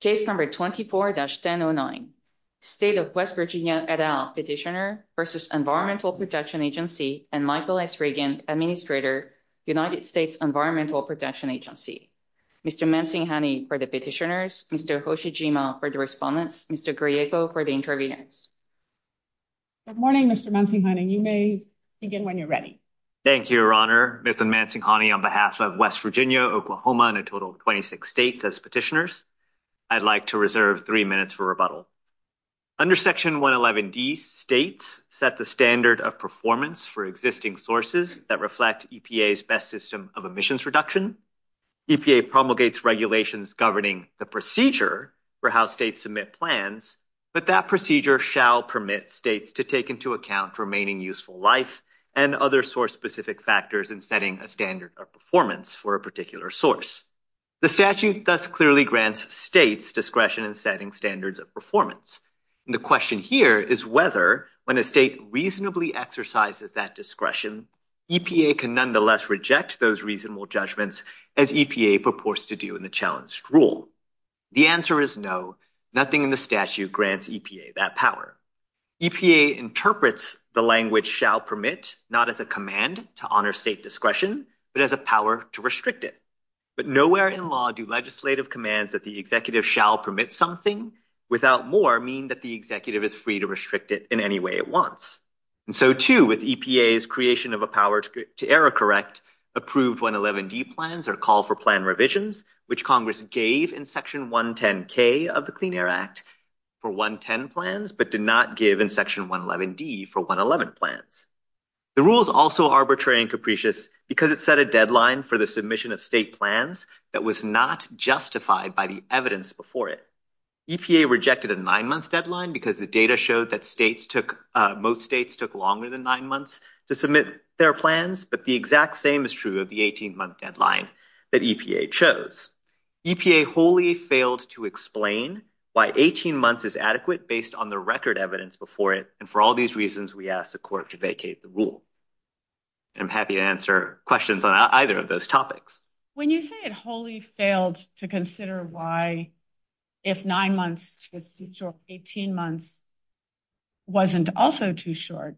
Case number 24-1009. State of West Virginia et al. Petitioner v. Environmental Protection Agency and Michael S. Regan, Administrator, United States Environmental Protection Agency. Mr. Mansinghani for the petitioners, Mr. Hoshijima for the respondents, Mr. Griego for the interviewees. Good morning, Mr. Mansinghani. You may begin when you're ready. Thank you, Your Honor. Mr. Mansinghani, on behalf of West Virginia, Oklahoma, and a total of 26 states as petitioners, I'd like to reserve three minutes for rebuttal. Under Section 111D, states set the standard of performance for existing sources that reflect EPA's best system of emissions reduction. EPA promulgates regulations governing the procedure for how states submit plans, but that procedure shall permit states to take into account remaining useful life and other source-specific factors in setting a standard of performance for a particular source. The statute thus clearly grants states discretion in setting standards of performance. The question here is whether, when a state reasonably exercises that discretion, EPA can nonetheless reject those reasonable judgments as EPA purports to do in the challenged rule. The answer is no. Nothing in the statute grants EPA that power. EPA interprets the language shall permit not as a command to honor state discretion, but as a power to restrict it. But nowhere in law do legislative commands that the executive shall permit something without more mean that the executive is free to restrict it in any way it wants. And so, too, with EPA's creation of a power to error correct, approved 111D plans are called for plan revisions, which Congress gave in Section 110K of the Clean Air Act for 110 plans, but did not give in Section 111D for 111 plans. The rule is also arbitrary and capricious because it set a deadline for the submission of state plans that was not justified by the evidence before it. EPA rejected a nine-month deadline because the data showed that most states took longer than nine months to submit their plans, but the exact same is true of the 18-month deadline that EPA chose. EPA wholly failed to explain why 18 months is adequate based on the record evidence before it, and for all these reasons, we ask the court to vacate the rule. I'm happy to answer questions on either of those topics. When you say it wholly failed to consider why if nine months to 18 months wasn't also too short,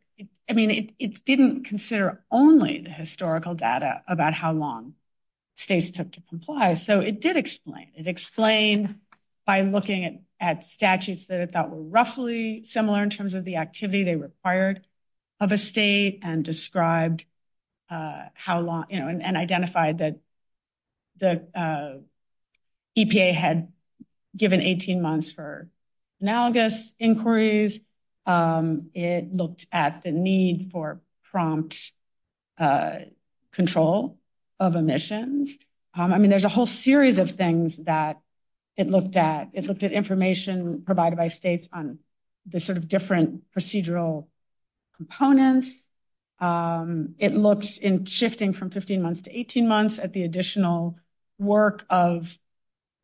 I mean, it didn't consider only the historical data about how long states took to comply. So it did explain. It explained by looking at statutes that it thought were roughly similar in terms of the activity they required of a state and described how long, you know, and identified that EPA had given 18 months for analogous inquiries. It looked at the need for prompt control of emissions. I mean, there's a whole series of things that it looked at. It looked at information provided by states on the sort of different procedural components. It looked in shifting from 15 months to 18 months at the additional work of,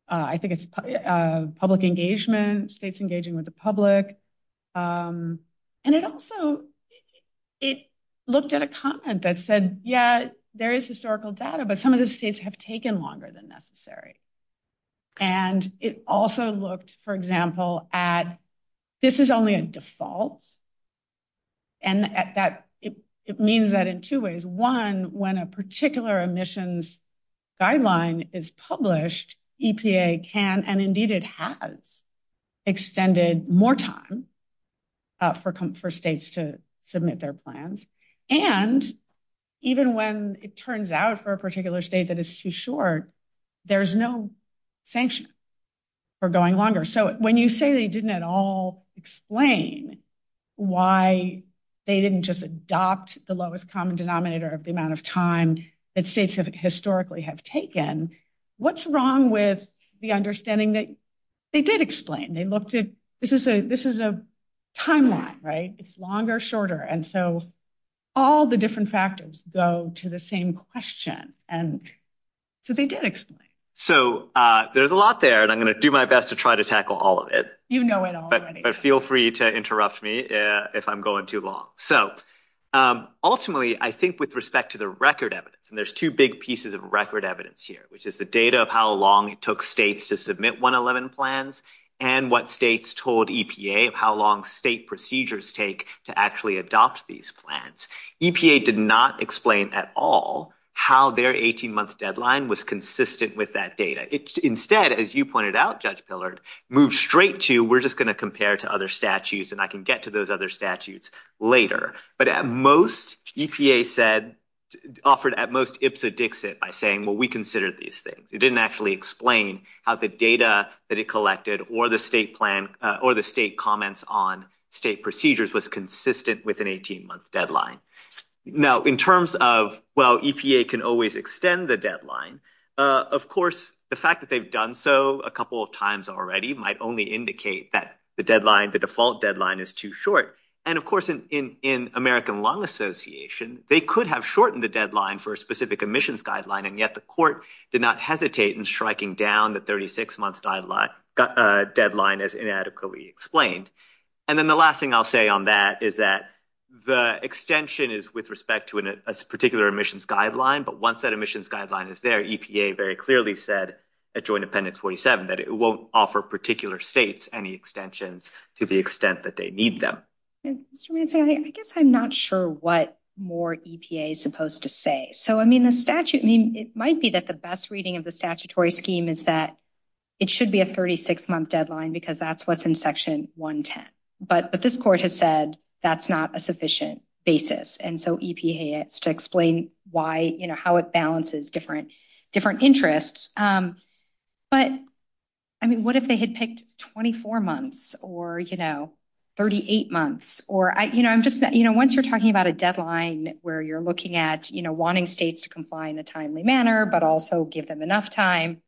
I think it's public engagement, states engaging with the public. And it also, it looked at a comment that said, yeah, there is historical data, but some of the states have taken longer than necessary. And it also looked, for example, at this is only a default. And it means that in two ways. One, when a particular emissions guideline is published, EPA can, and indeed it has, extended more time for states to submit their plans. And even when it turns out for a particular state that is too short, there's no sanction for going longer. So when you say they didn't at all explain why they didn't just adopt the lowest common denominator of the amount of time that states historically have taken, what's wrong with the understanding that they did explain? And they looked at, this is a timeline, right? It's longer, shorter. And so all the different factors go to the same question. And so they did explain. So there's a lot there, and I'm going to do my best to try to tackle all of it. You know it already. But feel free to interrupt me if I'm going too long. Ultimately, I think with respect to the record evidence, and there's two big pieces of record evidence here, which is the data of how long it took states to submit 111 plans, and what states told EPA of how long state procedures take to actually adopt these plans. EPA did not explain at all how their 18-month deadline was consistent with that data. Instead, as you pointed out, Judge Pillard, move straight to, we're just going to compare to other statutes, and I can get to those other statutes later. But at most, EPA said, offered at most ipsa dixit by saying, well, we considered these things. It didn't actually explain how the data that it collected, or the state plan, or the state comments on state procedures was consistent with an 18-month deadline. Now, in terms of, well, EPA can always extend the deadline, of course, the fact that they've done so a couple of times already might only indicate that the deadline, the default deadline is too short. And of course, in American Lung Association, they could have shortened the deadline for a specific admissions guideline, and yet the court did not hesitate in striking down the 36-month deadline as inadequately explained. And then the last thing I'll say on that is that the extension is with respect to a particular admissions guideline, but once that admissions guideline is there, EPA very clearly said at Joint Appendix 47 that it won't offer particular states any extensions to the extent that they need them. I guess I'm not sure what more EPA is supposed to say. So, I mean, the statute, I mean, it might be that the best reading of the statutory scheme is that it should be a 36-month deadline because that's what's in Section 110. But this court has said that's not a sufficient basis, and so EPA has to explain why, you know, how it balances different interests. But, I mean, what if they had picked 24 months or, you know, 38 months? Or, you know, once you're talking about a deadline where you're looking at, you know, wanting states to comply in a timely manner but also give them enough time,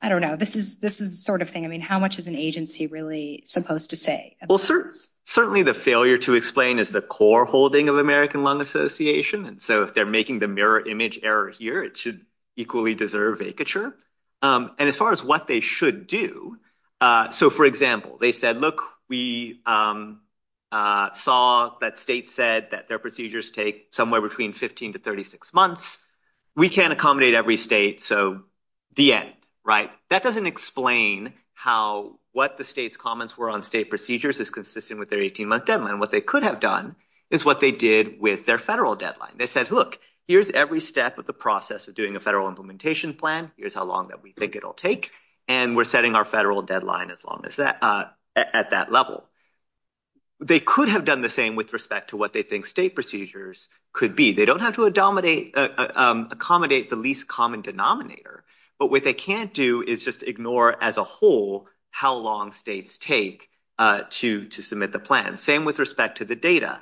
I don't know. This is the sort of thing, I mean, how much is an agency really supposed to say? Well, certainly the failure to explain is the core holding of American Lung Association. And so if they're making the mirror image error here, it should equally deserve vacature. And as far as what they should do, so, for example, they said, look, we saw that states said that their procedures take somewhere between 15 to 36 months. We can't accommodate every state, so the end, right? That doesn't explain how, what the state's comments were on state procedures is consistent with their 18-month deadline. What they could have done is what they did with their federal deadline. They said, look, here's every step of the process of doing a federal implementation plan. Here's how long that we think it'll take, and we're setting our federal deadline as long as that, at that level. They could have done the same with respect to what they think state procedures could be. They don't have to accommodate the least common denominator. But what they can't do is just ignore as a whole how long states take to submit the plan. Same with respect to the data.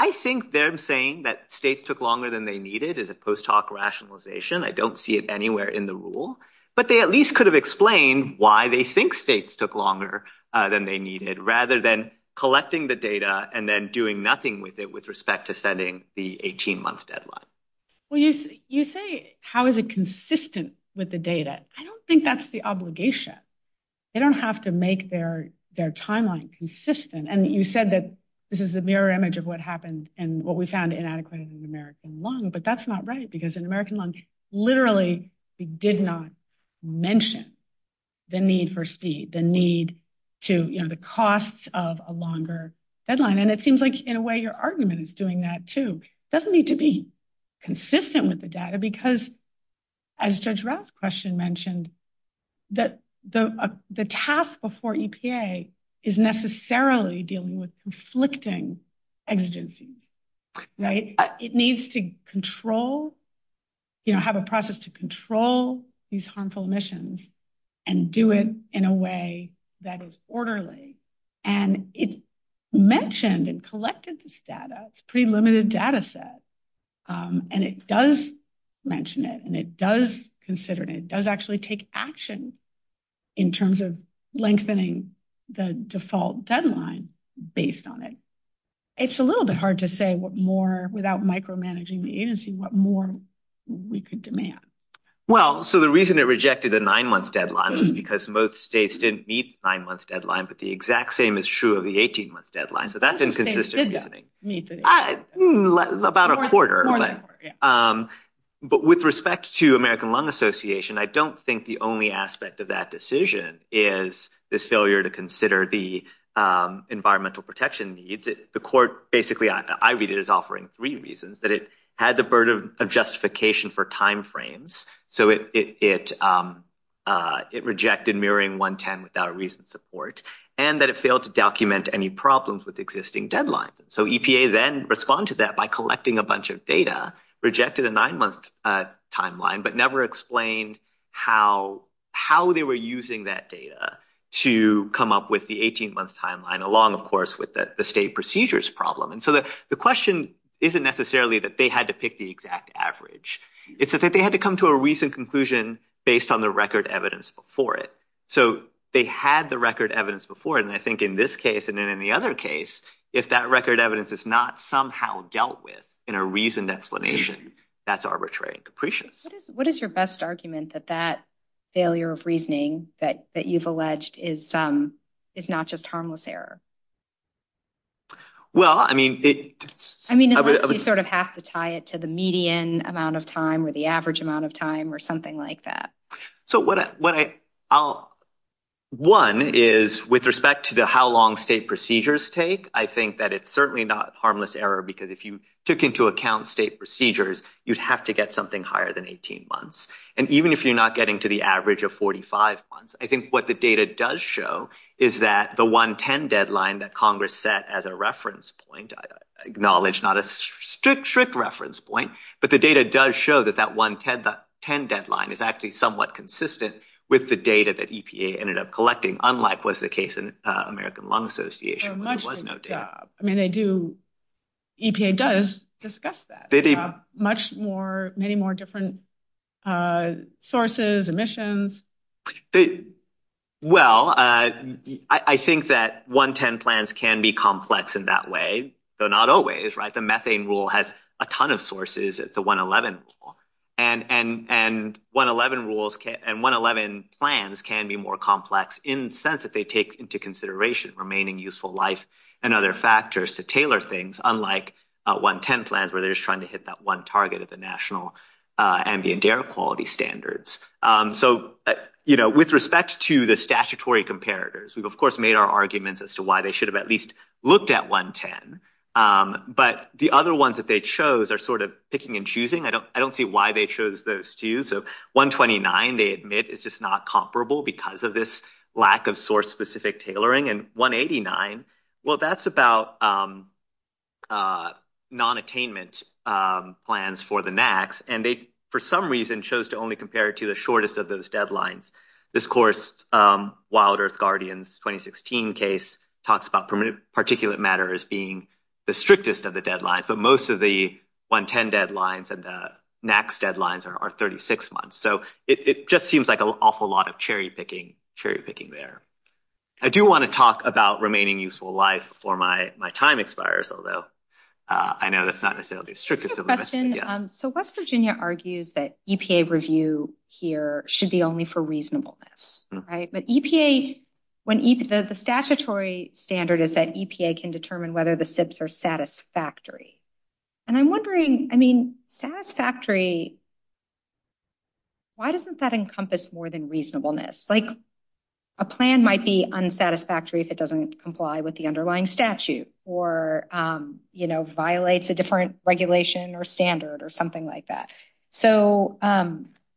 I think them saying that states took longer than they needed is a post hoc rationalization. I don't see it anywhere in the rule. But they at least could have explained why they think states took longer than they needed, rather than collecting the data and then doing nothing with it with respect to setting the 18-month deadline. Well, you say, how is it consistent with the data? I don't think that's the obligation. They don't have to make their timeline consistent. And you said that this is a mirror image of what happened and what we found inadequate in the American lung. But that's not right, because the American lung literally did not mention the need for speed, the need to, you know, the cost of a longer deadline. And it seems like, in a way, your argument is doing that, too. It doesn't need to be consistent with the data, because as Judge Rath's question mentioned, the task before EPA is necessarily dealing with conflicting exigencies. It needs to control, you know, have a process to control these harmful emissions and do it in a way that is orderly. And it mentioned and collected this data. It's a pretty limited data set. And it does mention it, and it does consider it, and it does actually take action in terms of lengthening the default deadline based on it. It's a little bit hard to say what more, without micromanaging the agency, what more we could demand. Well, so the reason it rejected the nine-month deadline is because most states didn't meet the nine-month deadline. But the exact same is true of the 18-month deadline. So that's inconsistent. About a quarter. But with respect to American Lung Association, I don't think the only aspect of that decision is this failure to consider the environmental protection needs. The court, basically, I read it as offering three reasons. That it had the burden of justification for timeframes. So it rejected mirroring 110 without a reason to court. And that it failed to document any problems with existing deadlines. So EPA then responded to that by collecting a bunch of data, rejected a nine-month timeline, but never explained how they were using that data to come up with the 18-month timeline, along, of course, with the state procedures problem. And so the question isn't necessarily that they had to pick the exact average. It's that they had to come to a recent conclusion based on the record evidence before it. So they had the record evidence before. And I think in this case and in any other case, if that record evidence is not somehow dealt with in a reasoned explanation, that's arbitrary and capricious. What is your best argument that that failure of reasoning that you've alleged is not just harmless error? Well, I mean, it's... I mean, unless you sort of have to tie it to the median amount of time or the average amount of time or something like that. So what I'll... One is with respect to the how long state procedures take, I think that it's certainly not harmless error because if you took into account state procedures, you'd have to get something higher than 18 months. And even if you're not getting to the average of 45 months, I think what the data does show is that the 110 deadline that Congress set as a reference point, I acknowledge not a strict, strict reference point, but the data does show that that 110 deadline is actually somewhat consistent with the data that EPA ended up collecting, unlike was the case in American Lung Association. I mean, they do... EPA does discuss that. Much more, many more different sources, emissions. Well, I think that 110 plans can be complex in that way, though not always, right? The methane rule has a ton of sources at the 111 rule. And 111 rules and 111 plans can be more complex in the sense that they take into consideration remaining useful life and other factors to tailor things, unlike 110 plans where they're just trying to hit that one target of the national ambient air quality standards. So, you know, with respect to the statutory comparators, we've, of course, made our arguments as to why they should have at least looked at 110. But the other ones that they chose are sort of picking and choosing. I don't see why they chose those two. So 129, they admit, is just not comparable because of this lack of source-specific tailoring. And 189, well, that's about non-attainment plans for the NACs. And they, for some reason, chose to only compare it to the shortest of those deadlines. This course, Wild Earth Guardians 2016 case, talks about particulate matter as being the strictest of the deadlines. But most of the 110 deadlines and the NACs deadlines are 36 months. So it just seems like an awful lot of cherry picking, cherry picking there. I do want to talk about remaining useful life before my time expires, although I know that's not necessarily the strictest. So West Virginia argues that EPA review here should be only for reasonableness. But EPA, the statutory standard is that EPA can determine whether the SIBs are satisfactory. And I'm wondering, I mean, satisfactory, why doesn't that encompass more than reasonableness? Like, a plan might be unsatisfactory if it doesn't comply with the underlying statute or, you know, violates a different regulation or standard or something like that. So,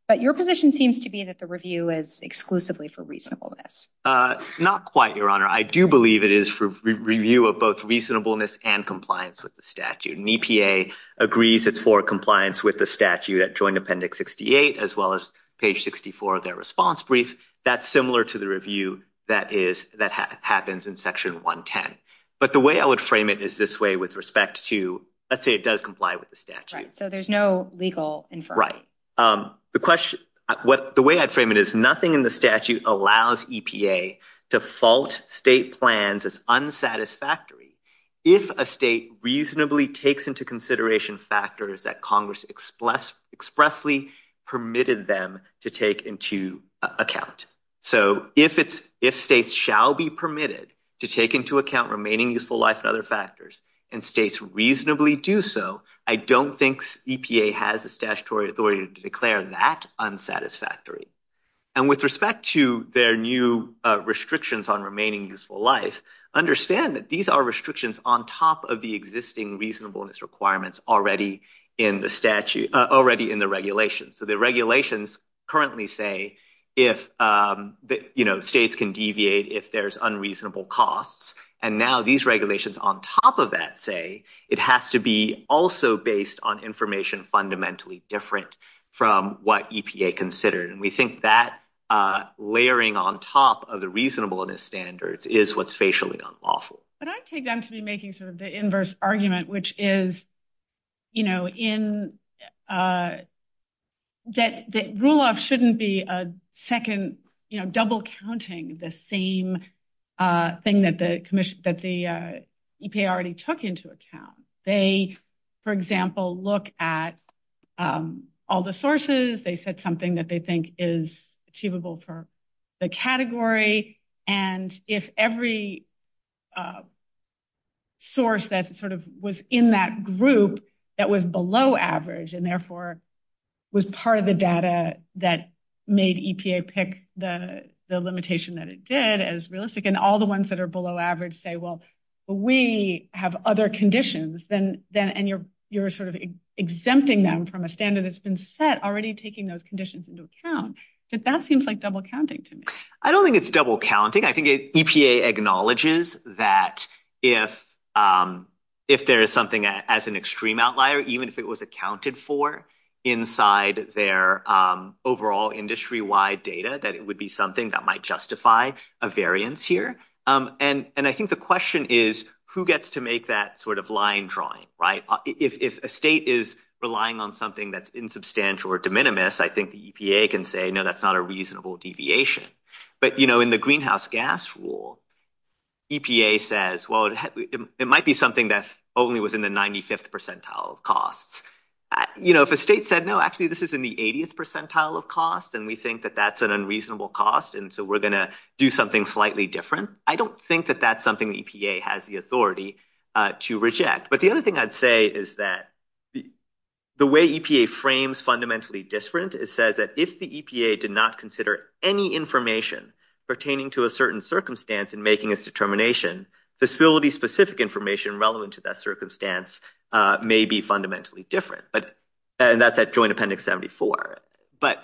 but your position seems to be that the review is exclusively for reasonableness. Not quite, Your Honor. I do believe it is for review of both reasonableness and compliance with the statute. And EPA agrees it's for compliance with the statute at Joint Appendix 68, as well as page 64 of their response brief. That's similar to the review that is, that happens in Section 110. But the way I would frame it is this way with respect to, let's say it does comply with the statute. So there's no legal inference. Right. The question, the way I'd frame it is nothing in the statute allows EPA to fault state plans as unsatisfactory if a state reasonably takes into consideration factors that Congress expressly permitted them to take into account. So if it's, if states shall be permitted to take into account remaining useful life and other factors and states reasonably do so, I don't think EPA has the statutory authority to declare that unsatisfactory. And with respect to their new restrictions on remaining useful life, understand that these are restrictions on top of the existing reasonableness requirements already in the statute, already in the regulations. So the regulations currently say if, you know, states can deviate if there's unreasonable costs. And now these regulations on top of that say it has to be also based on information fundamentally different from what EPA considered. And we think that layering on top of the reasonableness standards is what's facially unlawful. But I'd take them to be making sort of the inverse argument, which is, you know, in that the rule of shouldn't be a second, you know, double counting the same thing that the commission, that the EPA already took into account. They, for example, look at all the sources. They said something that they think is achievable for the category. And if every source that sort of was in that group that was below average and therefore was part of the data that made EPA pick the limitation that it did as realistic, and all the ones that are below average say, well, we have other conditions, and you're sort of exempting them from a standard that's been set, already taking those conditions into account, that that seems like double counting to me. I don't think it's double counting. I think EPA acknowledges that if there is something as an extreme outlier, even if it was accounted for inside their overall industry-wide data, that it would be something that might justify a variance here. And I think the question is, who gets to make that sort of line drawing, right? If a state is relying on something that's insubstantial or de minimis, I think the EPA can say, no, that's not a reasonable deviation. But in the greenhouse gas rule, EPA says, well, it might be something that's only within the 95th percentile of cost. If a state said, no, actually, this is in the 80th percentile of cost, and we think that that's an unreasonable cost, and so we're going to do something slightly different, I don't think that that's something EPA has the authority to reject. But the other thing I'd say is that the way EPA frames fundamentally different, it says that if the EPA did not consider any information pertaining to a certain circumstance in making its determination, facility-specific information relevant to that circumstance may be fundamentally different. And that's at Joint Appendix 74. But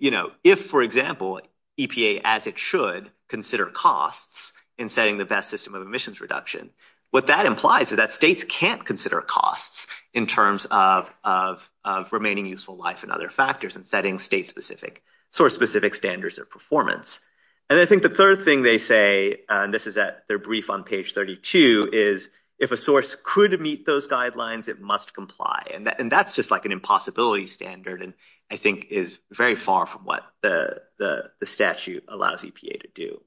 if, for example, EPA, as it should, consider costs in setting the best system of emissions reduction, what that implies is that states can't consider costs in terms of remaining useful life and other factors and setting state-specific, source-specific standards of performance. And I think the third thing they say, and this is at their brief on page 32, is if a source could meet those guidelines, it must comply. And that's just like an impossibility standard, and I think is very far from what the statute allows EPA to do.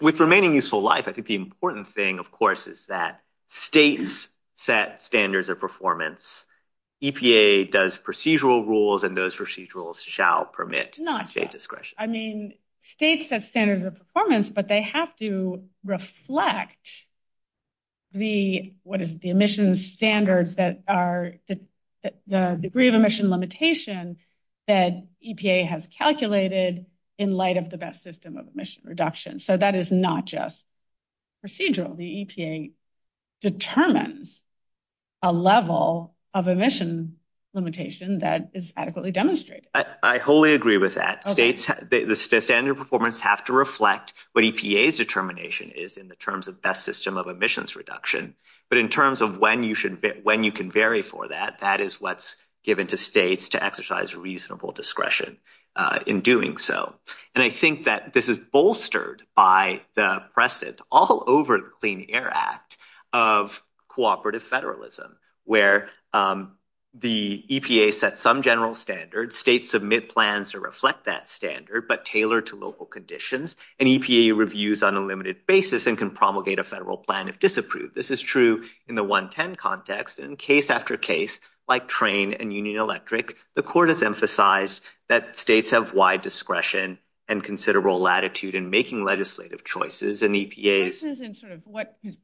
With remaining useful life, I think the important thing, of course, is that states set standards of performance. EPA does procedural rules, and those procedural rules shall permit state discretion. I mean, states have standards of performance, but they have to reflect the, what is it, the emission standards that are the degree of emission limitation that EPA has calculated in light of the best system of emission reduction. So that is not just procedural. The EPA determines a level of emission limitation that is adequately demonstrated. I wholly agree with that. The standards of performance have to reflect what EPA's determination is in the terms of best system of emissions reduction. But in terms of when you can vary for that, that is what's given to states to exercise reasonable discretion in doing so. And I think that this is bolstered by the precedent all over the Clean Air Act of cooperative federalism, where the EPA set some general standards, states submit plans to reflect that standard, but tailored to local conditions, and EPA reviews on a limited basis and can promulgate a federal plan if disapproved. This is true in the 110 context, and in case after case, like train and Union Electric, the court has emphasized that states have wide discretion and considerable latitude in making legislative choices, and EPA…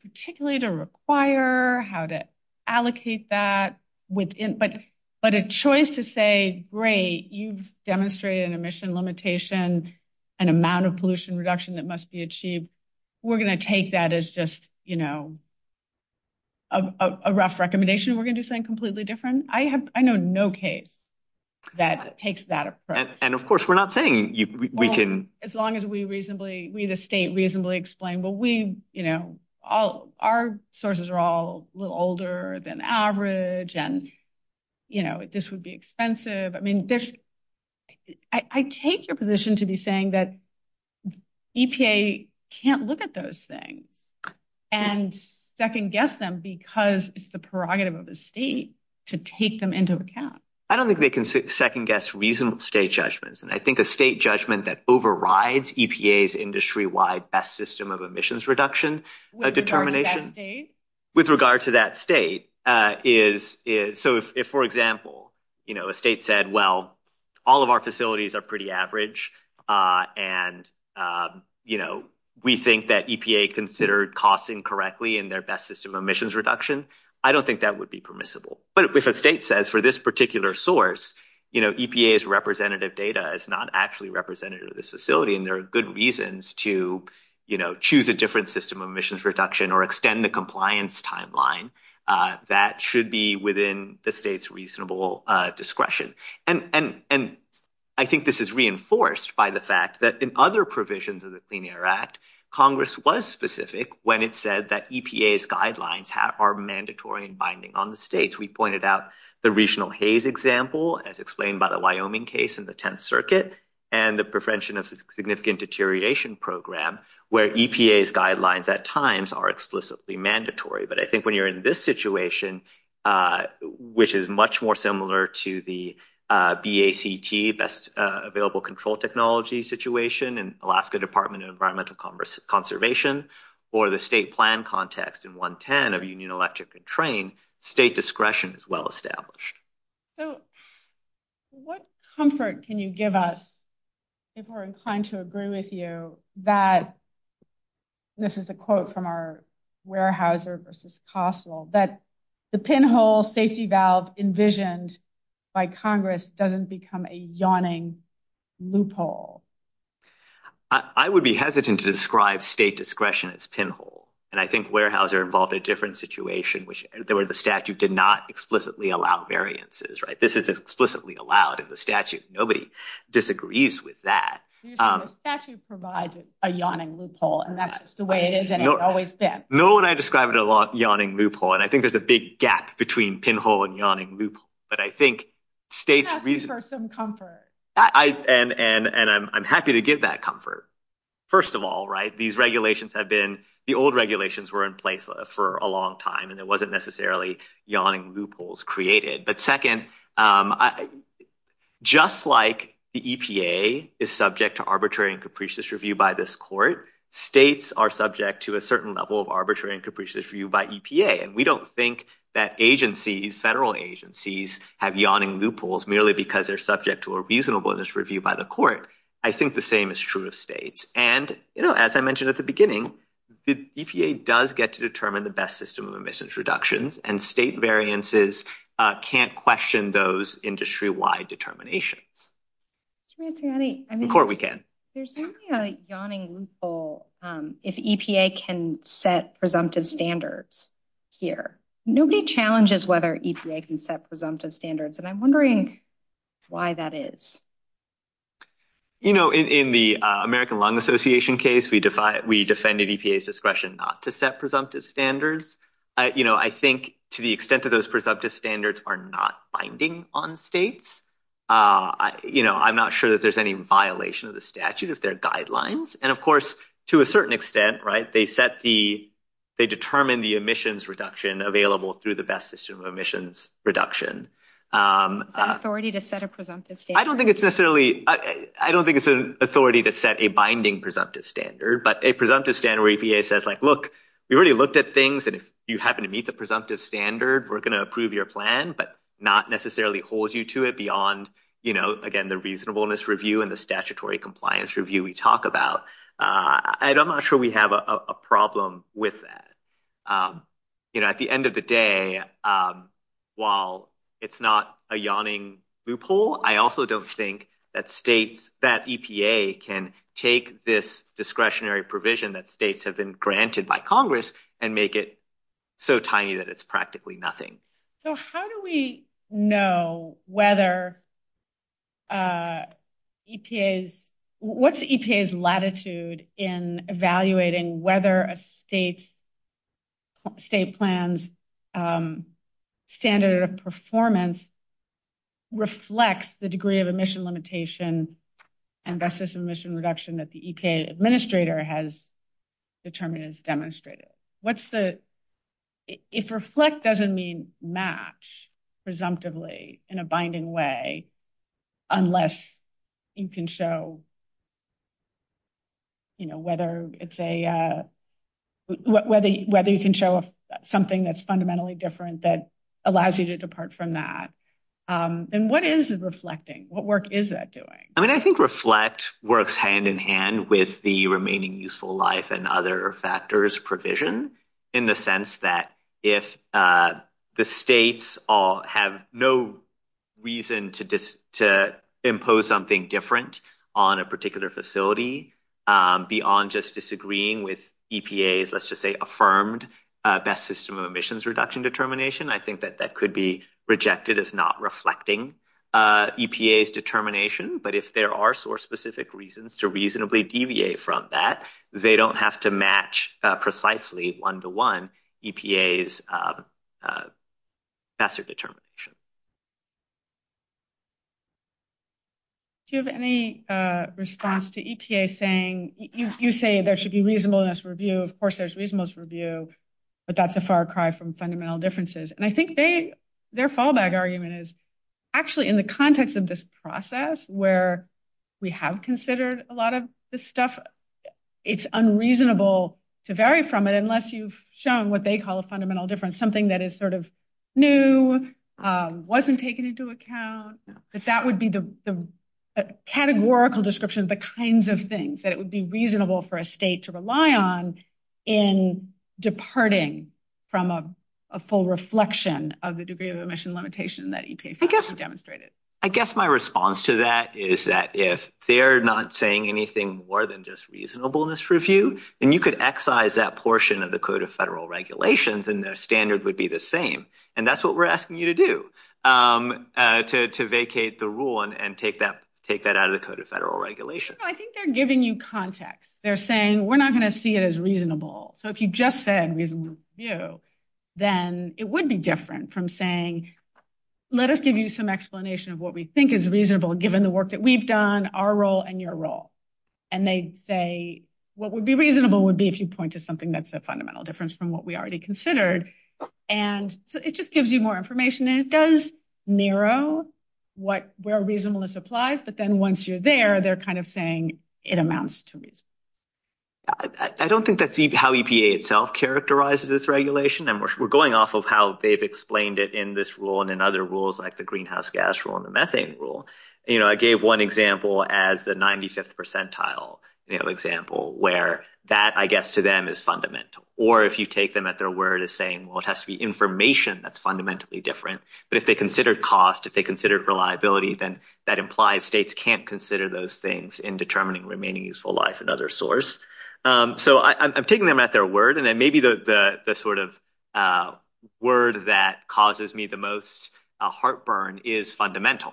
…particularly to require, how to allocate that. But a choice to say, great, you've demonstrated an emission limitation, an amount of pollution reduction that must be achieved. We're going to take that as just, you know, a rough recommendation. We're going to do something completely different. I know no case that takes that approach. And of course, we're not saying we can… …as long as we reasonably…we, the state, reasonably explain, well, we, you know, all…our sources are all a little older than average, and, you know, this would be expensive. I mean, there's…I take your position to be saying that EPA can't look at those things and second-guess them because it's the prerogative of the state to take them into account. I don't think they can second-guess reasonable state judgments. And I think a state judgment that overrides EPA's industry-wide best system of emissions reduction determination… With regard to that state? With regard to that state is…so, if, for example, you know, a state said, well, all of our facilities are pretty average, and, you know, we think that EPA considered costs incorrectly in their best system of emissions reduction, I don't think that would be permissible. But if a state says, for this particular source, you know, EPA's representative data is not actually representative of this facility, and there are good reasons to, you know, choose a different system of emissions reduction or extend the compliance timeline, that should be within the state's reasonable discretion. And I think this is reinforced by the fact that in other provisions of the Clean Air Act, Congress was specific when it said that EPA's guidelines are mandatory and binding on the states. We pointed out the regional haze example, as explained by the Wyoming case in the Tenth Circuit, and the prevention of significant deterioration program, where EPA's guidelines at times are explicitly mandatory. But I think when you're in this situation, which is much more similar to the BACT, Best Available Control Technology situation, and Alaska Department of Environmental Conservation, or the state plan context in 110 of Union Electric and Trane, state discretion is well established. So, what comfort can you give us if we're inclined to agree with you that, this is a quote from our Weyerhaeuser versus Kossel, that the pinhole safety valve envisioned by Congress doesn't become a yawning loophole? I would be hesitant to describe state discretion as pinhole. And I think Weyerhaeuser involved a different situation, which the statute did not explicitly allow variances, right? This is explicitly allowed in the statute. Nobody disagrees with that. The statute provides a yawning loophole, and that's the way it is, and it's always been. Noah and I describe it a lot, yawning loophole, and I think there's a big gap between pinhole and yawning loophole. But I think states— That's for some comfort. And I'm happy to give that comfort. First of all, right, these regulations have been—the old regulations were in place for a long time, and it wasn't necessarily yawning loopholes created. But second, just like the EPA is subject to arbitrary and capricious review by this court, states are subject to a certain level of arbitrary and capricious review by EPA. And we don't think that agencies, federal agencies, have yawning loopholes merely because they're subject to a reasonableness review by the court. I think the same is true of states. And, you know, as I mentioned at the beginning, the EPA does get to determine the best system of emissions reductions, and state variances can't question those industry-wide determinations. To be fair, I mean— The court, we can. There's only a yawning loophole if EPA can set presumptive standards here. Nobody challenges whether EPA can set presumptive standards, and I'm wondering why that is. You know, in the American Lung Association case, we defended EPA's discretion not to set presumptive standards. You know, I think to the extent that those presumptive standards are not binding on states, you know, I'm not sure that there's any violation of the statute of their guidelines. And, of course, to a certain extent, right, they set the—they determine the emissions reduction available through the best system of emissions reduction. The authority to set a presumptive standard. I don't think it's necessarily—I don't think it's an authority to set a binding presumptive standard, but a presumptive standard where EPA says, like, look, we really looked at things, and if you happen to meet the presumptive standard, we're going to approve your plan, but not necessarily holds you to it beyond, you know, again, the reasonableness review and the statutory compliance review we talk about. And I'm not sure we have a problem with that. You know, at the end of the day, while it's not a yawning loophole, I also don't think that states—that EPA can take this discretionary provision that states have been granted by Congress and make it so tiny that it's practically nothing. So, how do we know whether EPA's—what's EPA's latitude in evaluating whether a state's—state plan's standard of performance reflects the degree of emission limitation and best system emission reduction that the EPA administrator has determined and demonstrated? What's the—if reflect doesn't mean match presumptively in a binding way, unless you can show, you know, whether it's a—whether you can show something that's fundamentally different that allows you to depart from that, then what is reflecting? What work is that doing? I mean, I think reflect works hand-in-hand with the remaining useful life and other factors provision in the sense that if the states have no reason to impose something different on a particular facility beyond just disagreeing with EPA's, let's just say, affirmed best system of emissions reduction determination, I think that that could be rejected as not reflecting EPA's determination. But if there are source-specific reasons to reasonably deviate from that, they don't have to match precisely one-to-one EPA's standard determination. Do you have any response to EPA saying—you say there should be reasonableness review. Of course, there's reasonableness review, but that's a far cry from fundamental differences. And I think they—their fallback argument is actually in the context of this process where we have considered a lot of this stuff, it's unreasonable to vary from it unless you've shown what they call a fundamental difference, something that is sort of new, wasn't taken into account. But that would be the categorical description of the kinds of things that would be reasonable for a state to rely on in departing from a full reflection of the degree of emission limitation that EPA has demonstrated. I guess my response to that is that if they're not saying anything more than just reasonableness review, then you could excise that portion of the Code of Federal Regulations and their standard would be the same. And that's what we're asking you to do, to vacate the rule and take that out of the Code of Federal Regulations. I think they're giving you context. They're saying, we're not going to see it as reasonable. So if you just said reasonableness review, then it would be different from saying, let us give you some explanation of what we think is reasonable given the work that we've done, our role, and your role. And they say, what would be reasonable would be if you point to something that's a fundamental difference from what we already considered. And it just gives you more information. And it does narrow where reasonableness applies. But then once you're there, they're kind of saying, it amounts to reason. I don't think that's how EPA itself characterizes this regulation. And we're going off of how they've explained it in this rule and in other rules like the greenhouse gas rule and the methane rule. I gave one example as the 95th percentile example where that, I guess, to them is fundamental. Or if you take them at their word as saying, well, it has to be information that's fundamentally different. But if they considered cost, if they considered reliability, then that implies states can't consider those things in determining remaining useful life and other source. So I'm taking them at their word. And then maybe the sort of word that causes me the most heartburn is fundamental.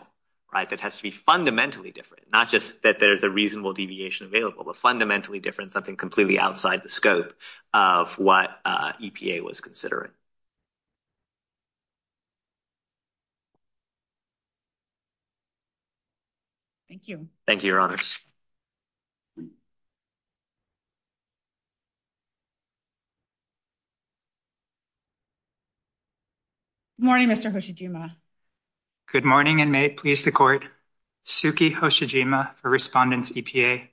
That has to be fundamentally different, not just that there's a reasonable deviation available, but fundamentally different, something completely outside the scope of what EPA was considering. Thank you. Thank you, Your Honors. Good morning, Mr. Hoshijima. Good morning, and may it please the Court. Suki Hoshijima, a respondent to EPA.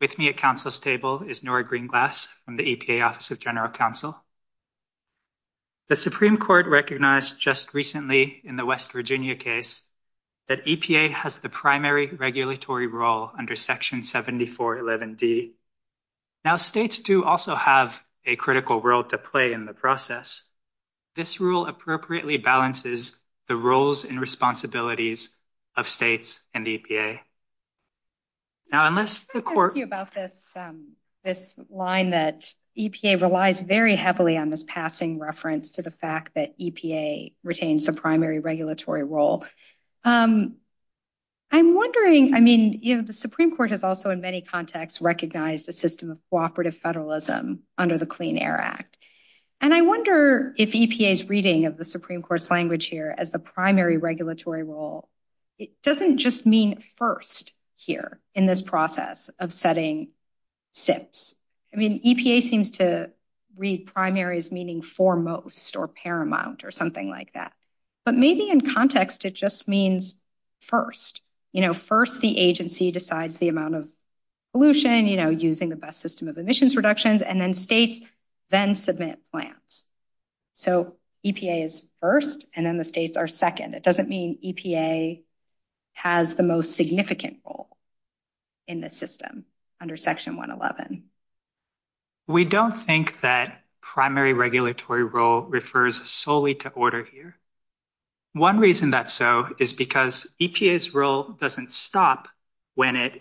With me at Council's table is Nora Greenglass from the EPA Office of General Counsel. The Supreme Court recognized just recently in the West Virginia case that EPA has the primary regulatory role under Section 7411D. Now, states do also have a critical role to play in the process. This rule appropriately balances the roles and responsibilities of states and EPA. Now, unless the Court... I was going to ask you about this line that EPA relies very heavily on this passing reference to the fact that EPA retains the primary regulatory role. I'm wondering, I mean, you know, the Supreme Court has also in many contexts recognized the system of cooperative federalism under the Clean Air Act. And I wonder if EPA's reading of the Supreme Court's language here as the primary regulatory role, it doesn't just mean first here in this process of setting SIPs. I mean, EPA seems to read primary as meaning foremost or paramount or something like that. But maybe in context, it just means first. You know, first, the agency decides the amount of pollution, you know, using the best system of emissions reductions, and then states then submit plans. So EPA is first and then the states are second. It doesn't mean EPA has the most significant role in the system under Section 111. We don't think that primary regulatory role refers solely to order here. One reason that's so is because EPA's role doesn't stop when it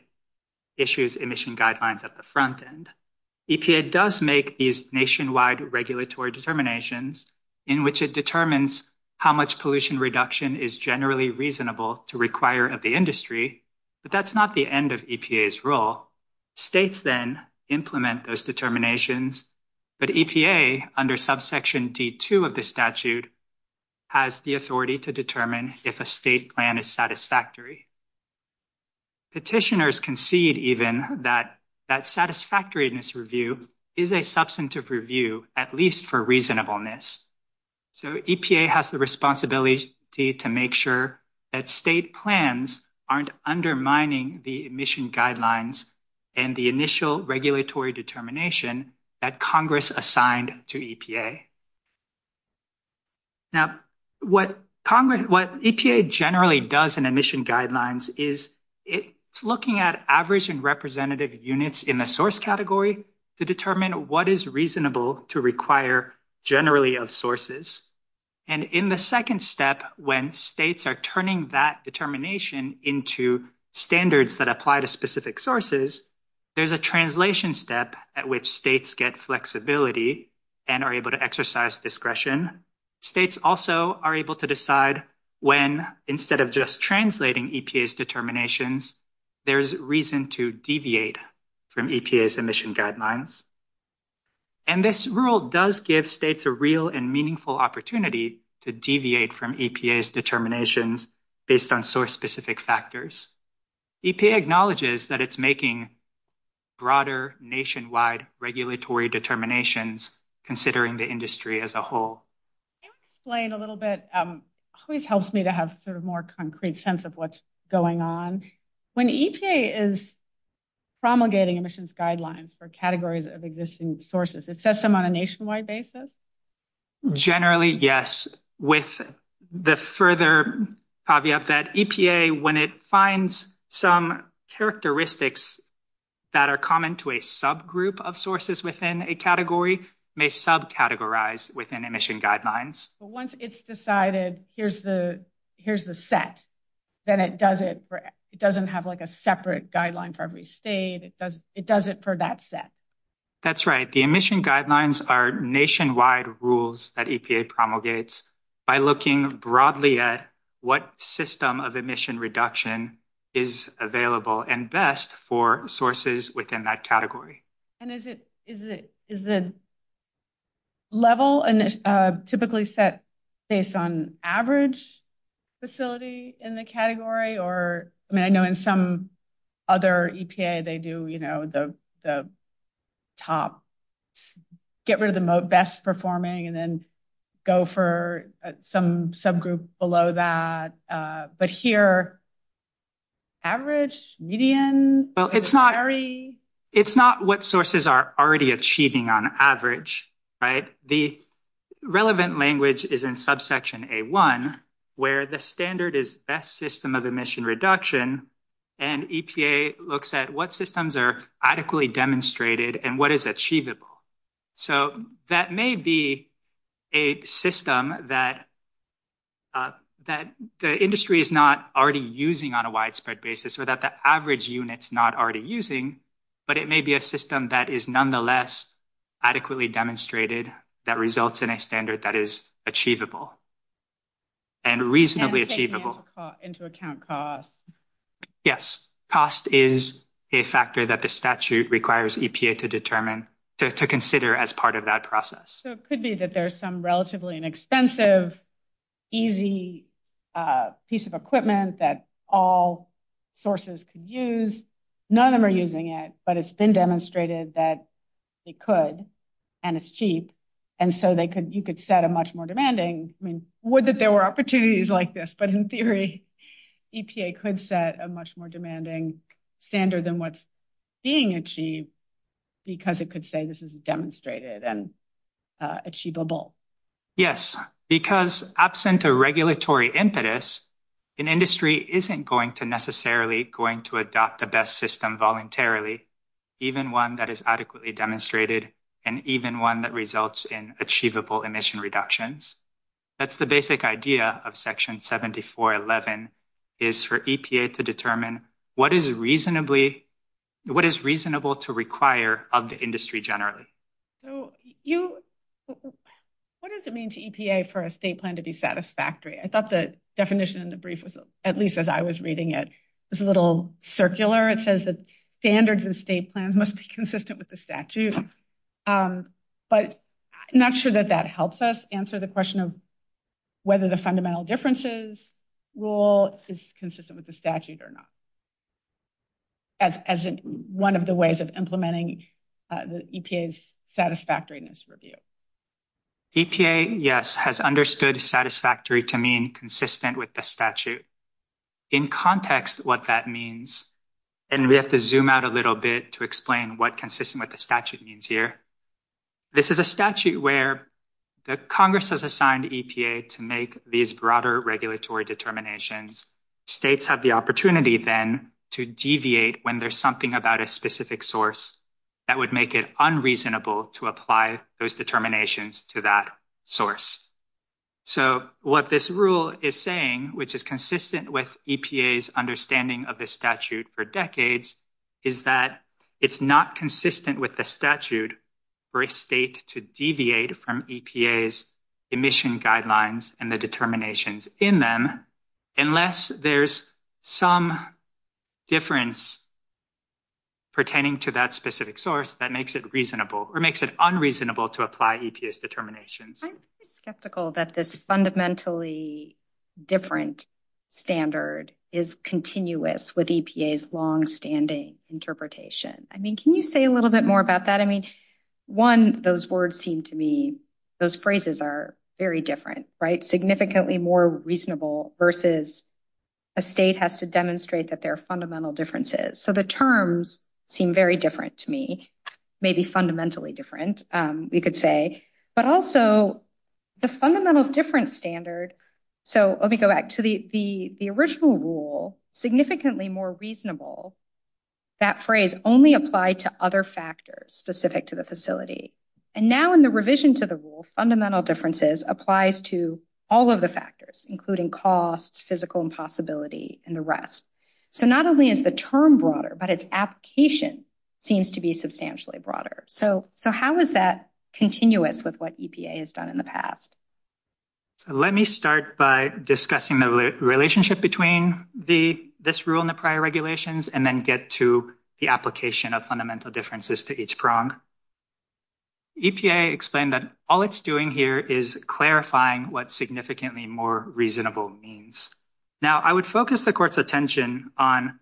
issues emission guidelines at the front end. EPA does make these nationwide regulatory determinations in which it determines how much pollution reduction is generally reasonable to require of the industry. But that's not the end of EPA's role. States then implement those determinations. But EPA, under subsection D2 of the statute, has the authority to determine if a state plan is satisfactory. Petitioners concede even that that satisfactoriness review is a substantive review, at least for reasonableness. So EPA has the responsibility to make sure that state plans aren't undermining the emission guidelines and the initial regulatory determination that Congress assigned to EPA. Now, what EPA generally does in emission guidelines is it's looking at average and representative units in the source category to determine what is reasonable to require generally of sources. And in the second step, when states are turning that determination into standards that apply to specific sources, there's a translation step at which states get flexibility and are able to exercise discretion. States also are able to decide when, instead of just translating EPA's determinations, there's reason to deviate from EPA's emission guidelines. And this rule does give states a real and meaningful opportunity to deviate from EPA's determinations based on source-specific factors. EPA acknowledges that it's making broader nationwide regulatory determinations, considering the industry as a whole. Can you explain a little bit? It helps me to have a more concrete sense of what's going on. When EPA is promulgating emissions guidelines for categories of existing sources, it sets them on a nationwide basis? Generally, yes. With the further caveat that EPA, when it finds some characteristics that are common to a subgroup of sources within a category, may subcategorize within emission guidelines. But once it's decided, here's the set, then it doesn't have a separate guideline for every state. It does it for that set. That's right. The emission guidelines are nationwide rules that EPA promulgates by looking broadly at what system of emission reduction is available and best for sources within that category. And is the level typically set based on average facility in the category? I know in some other EPA, they do the top, get rid of the best performing, and then go for some subgroup below that. But here, average, median? It's not what sources are already achieving on average. The relevant language is in subsection A1, where the standard is best system of emission reduction, and EPA looks at what systems are adequately demonstrated and what is achievable. That may be a system that the industry is not already using on a widespread basis or that the average unit is not already using, but it may be a system that is nonetheless adequately demonstrated that results in a standard that is achievable and reasonably achievable. Yes. Cost is a factor that the statute requires EPA to determine, to consider as part of that process. So it could be that there's some relatively inexpensive, easy piece of equipment that all sources could use. None of them are using it, but it's been demonstrated that it could, and it's cheap. And so you could set a much more demanding, I mean, would that there were opportunities like this, but in theory, EPA could set a much more demanding standard than what's being achieved because it could say this is demonstrated and achievable. Yes, because absent a regulatory impetus, an industry isn't going to necessarily going to adopt the best system voluntarily, even one that is adequately demonstrated and even one that results in achievable emission reductions. That's the basic idea of section 7411 is for EPA to determine what is reasonably, what is reasonable to require of the industry generally. So you, what does it mean to EPA for a state plan to be satisfactory? I thought the definition in the brief, at least as I was reading it, was a little circular. It says that standards and state plans must be consistent with the statute. But I'm not sure that that helps us answer the question of whether the fundamental differences rule is consistent with the statute or not. As one of the ways of implementing the EPA's satisfactoriness review. EPA, yes, has understood satisfactory to mean consistent with the statute. In context, what that means, and we have to zoom out a little bit to explain what consistent with the statute means here. This is a statute where Congress has assigned EPA to make these broader regulatory determinations. States have the opportunity then to deviate when there's something about a specific source. That would make it unreasonable to apply those determinations to that source. So, what this rule is saying, which is consistent with EPA's understanding of the statute for decades, is that it's not consistent with the statute for a state to deviate from EPA's emission guidelines and the determinations in them. It's not consistent with the statute unless there's some difference pertaining to that specific source that makes it reasonable or makes it unreasonable to apply EPA's determinations. I'm skeptical that this fundamentally different standard is continuous with EPA's longstanding interpretation. I mean, can you say a little bit more about that? I mean, one, those words seem to me, those phrases are very different, right? Significantly more reasonable versus a state has to demonstrate that there are fundamental differences. So, the terms seem very different to me, maybe fundamentally different, you could say, but also the fundamental difference standard. So, let me go back to the original rule, significantly more reasonable, that phrase only applied to other factors specific to the facility. And now in the revision to the rule, fundamental differences applies to all of the factors, including cost, physical impossibility, and the rest. So, not only is the term broader, but its application seems to be substantially broader. So, how is that continuous with what EPA has done in the past? Let me start by discussing the relationship between this rule and the prior regulations and then get to the application of fundamental differences to each prong. EPA explained that all it's doing here is clarifying what significantly more reasonable means. Now, I would focus the court's attention on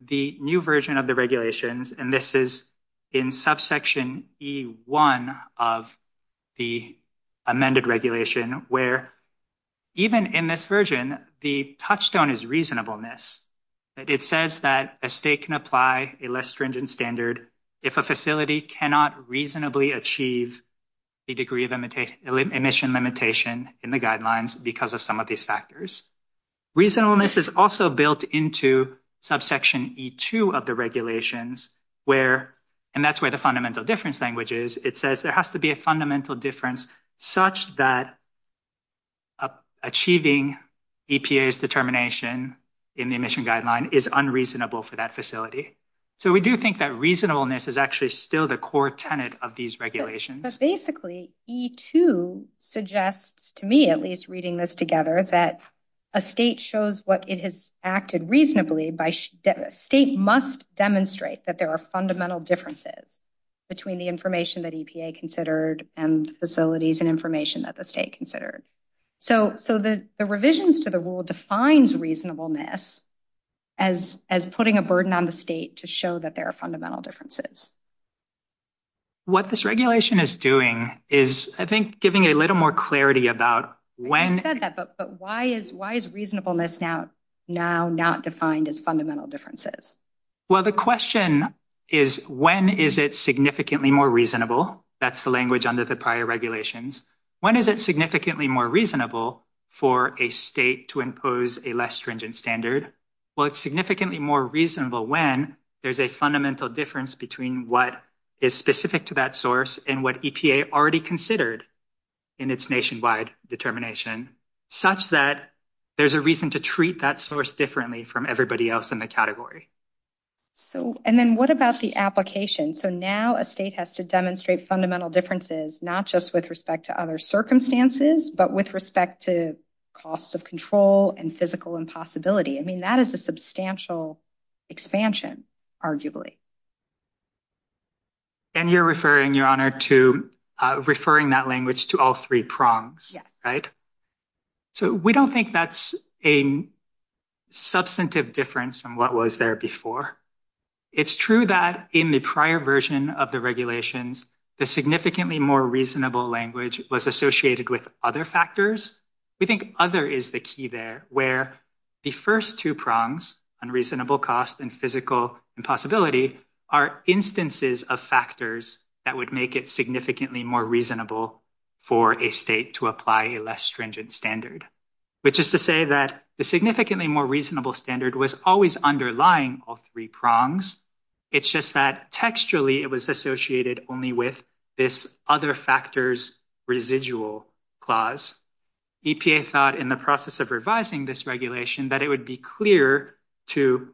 the new version of the regulations, and this is in subsection E1 of the amended regulation, where even in this version, the touchstone is reasonableness. It says that a state can apply a less stringent standard if a facility cannot reasonably achieve a degree of emission limitation in the guidelines because of some of these factors. Reasonableness is also built into subsection E2 of the regulations, and that's where the fundamental difference language is. It says there has to be a fundamental difference such that achieving EPA's determination in the emission guideline is unreasonable for that facility. So, we do think that reasonableness is actually still the core tenet of these regulations. But basically, E2 suggests to me, at least reading this together, that a state shows what it has acted reasonably by state must demonstrate that there are fundamental differences between the information that EPA considered and facilities and information that the state considered. So, the revisions to the rule defines reasonableness as putting a burden on the state to show that there are fundamental differences. What this regulation is doing is, I think, giving a little more clarity about when... You said that, but why is reasonableness now not defined as fundamental differences? Well, the question is, when is it significantly more reasonable? That's the language under the prior regulations. When is it significantly more reasonable for a state to impose a less stringent standard? Well, it's significantly more reasonable when there's a fundamental difference between what is specific to that source and what EPA already considered in its nationwide determination, such that there's a reason to treat that source differently from everybody else in the category. And then what about the application? So, now a state has to demonstrate fundamental differences, not just with respect to other circumstances, but with respect to costs of control and physical impossibility. I mean, that is a substantial expansion, arguably. And you're referring, Your Honor, to referring that language to all three prongs. Yes. Right? So, we don't think that's a substantive difference from what was there before. It's true that in the prior version of the regulations, the significantly more reasonable language was associated with other factors. We think other is the key there, where the first two prongs, unreasonable cost and physical impossibility, are instances of factors that would make it significantly more reasonable for a state to apply a less stringent standard. Which is to say that the significantly more reasonable standard was always underlying all three prongs. It's just that textually it was associated only with this other factors residual clause. EPA thought in the process of revising this regulation that it would be clear to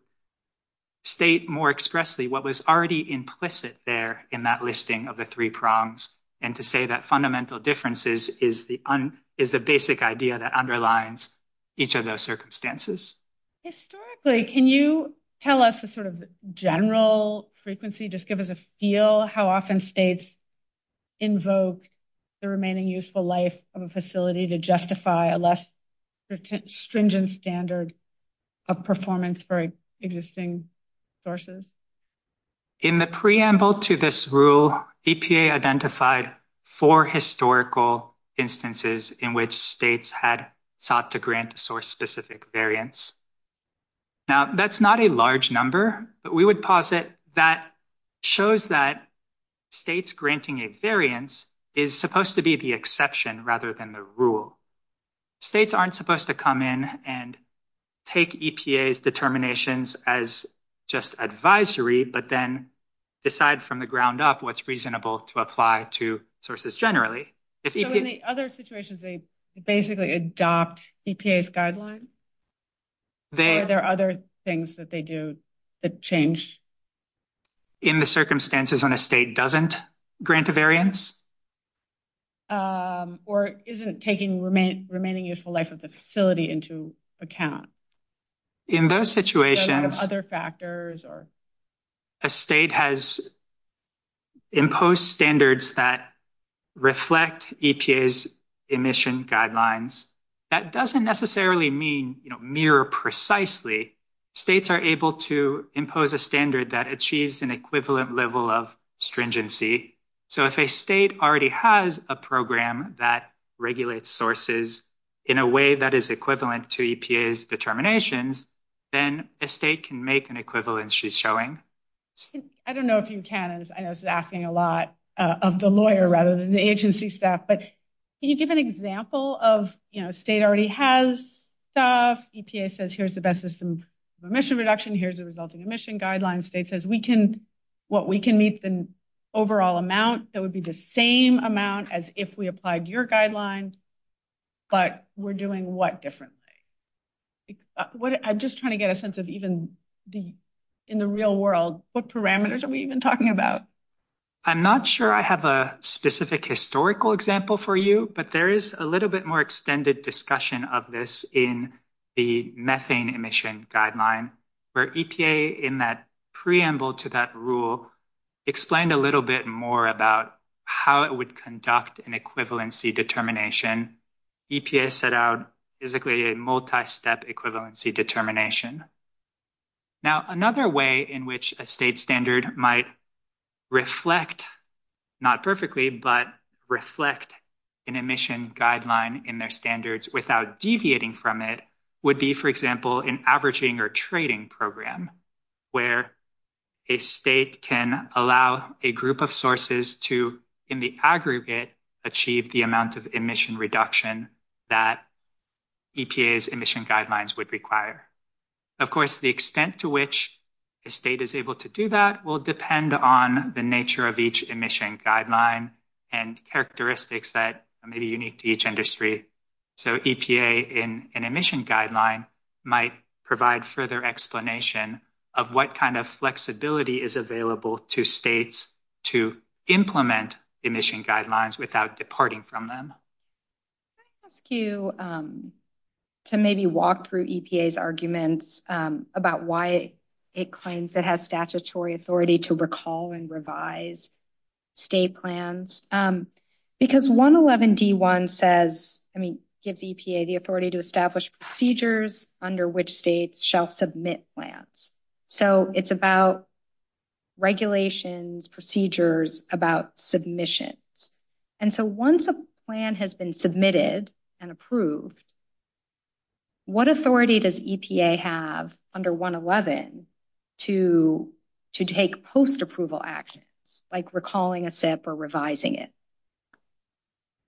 state more expressly what was already implicit there in that listing of the three prongs. And to say that fundamental differences is the basic idea that underlines each of those circumstances. Historically, can you tell us a sort of general frequency, just give us a feel, how often states invoke the remaining useful life of a facility to justify a less stringent standard of performance for existing sources? In the preamble to this rule, EPA identified four historical instances in which states had sought to grant a source-specific variance. Now, that's not a large number, but we would posit that shows that states granting a variance is supposed to be the exception rather than the rule. States aren't supposed to come in and take EPA's determinations as just advisory, but then decide from the ground up what's reasonable to apply to sources generally. So in the other situations they basically adopt EPA's guidelines? Are there other things that they do that change? In the circumstances when a state doesn't grant a variance? Or isn't taking remaining useful life of the facility into account? In those situations, a state has imposed standards that reflect EPA's emission guidelines. That doesn't necessarily mean mirror precisely, states are able to impose a standard that achieves an equivalent level of stringency. So if a state already has a program that regulates sources in a way that is equivalent to EPA's determinations, then a state can make an equivalent she's showing. I don't know if you can, I know this is asking a lot of the lawyer rather than the agency staff. But can you give an example of state already has stuff, EPA says here's the best system for emission reduction, here's the resulting emission guidelines. State says what we can meet the overall amount, so it would be the same amount as if we applied your guidelines, but we're doing what differently? I'm just trying to get a sense of even in the real world, what parameters are we even talking about? I'm not sure I have a specific historical example for you, but there is a little bit more extended discussion of this in the methane emission guideline. For EPA in that preamble to that rule, explained a little bit more about how it would conduct an equivalency determination. EPA set out physically a multi-step equivalency determination. Another way in which a state standard might reflect, not perfectly, but reflect an emission guideline in their standards without deviating from it would be, for example, an averaging or trading program. Where a state can allow a group of sources to, in the aggregate, achieve the amount of emission reduction that EPA's emission guidelines would require. Of course, the extent to which the state is able to do that will depend on the nature of each emission guideline and characteristics that may be unique to each industry. EPA in an emission guideline might provide further explanation of what kind of flexibility is available to states to implement emission guidelines without departing from them. I'll ask you to maybe walk through EPA's arguments about why it claims it has statutory authority to recall and revise state plans. Because 111 D.1 gives EPA the authority to establish procedures under which states shall submit plans. It's about regulations, procedures, about submission. Once a plan has been submitted and approved, what authority does EPA have under 111 to take post-approval action, like recalling a SIP or revising it?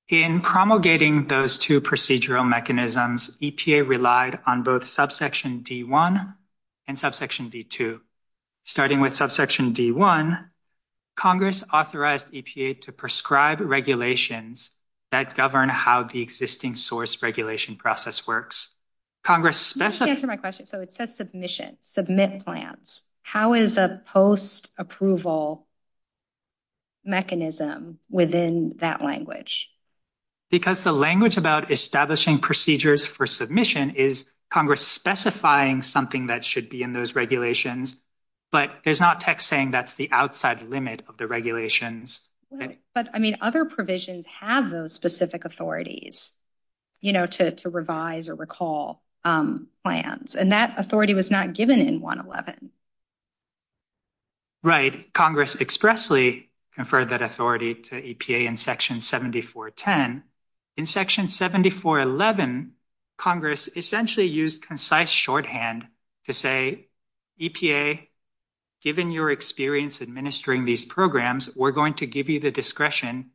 In promulgating those two procedural mechanisms, EPA relied on both subsection D.1 and subsection D.2. Starting with subsection D.1, Congress authorized EPA to prescribe regulations that govern how the existing source regulation process works. Let me answer my question. It says submission, submit plans. How is a post-approval mechanism within that language? Because the language about establishing procedures for submission is Congress specifying something that should be in those regulations, but there's not text saying that's the outside limit of the regulations. But other provisions have those specific authorities to revise or recall plans, and that authority was not given in 111. Right. Congress expressly conferred that authority to EPA in Section 7410. In Section 7411, Congress essentially used concise shorthand to say, EPA, given your experience administering these programs, we're going to give you the discretion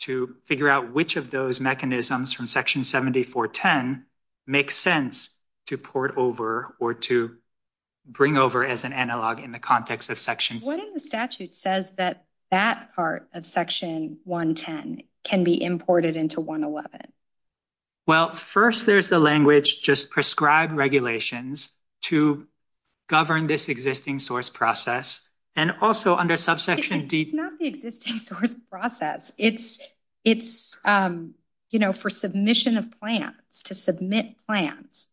to figure out which of those mechanisms from Section 7410 makes sense to port over or to bring over as an analog in the context of Section 7110. What in the statute says that that part of Section 110 can be imported into 111? Well, first there's the language, just prescribe regulations to govern this existing source process, and also under subsection D. It's not the existing source process. It's, you know, for submission of plans, to submit plans.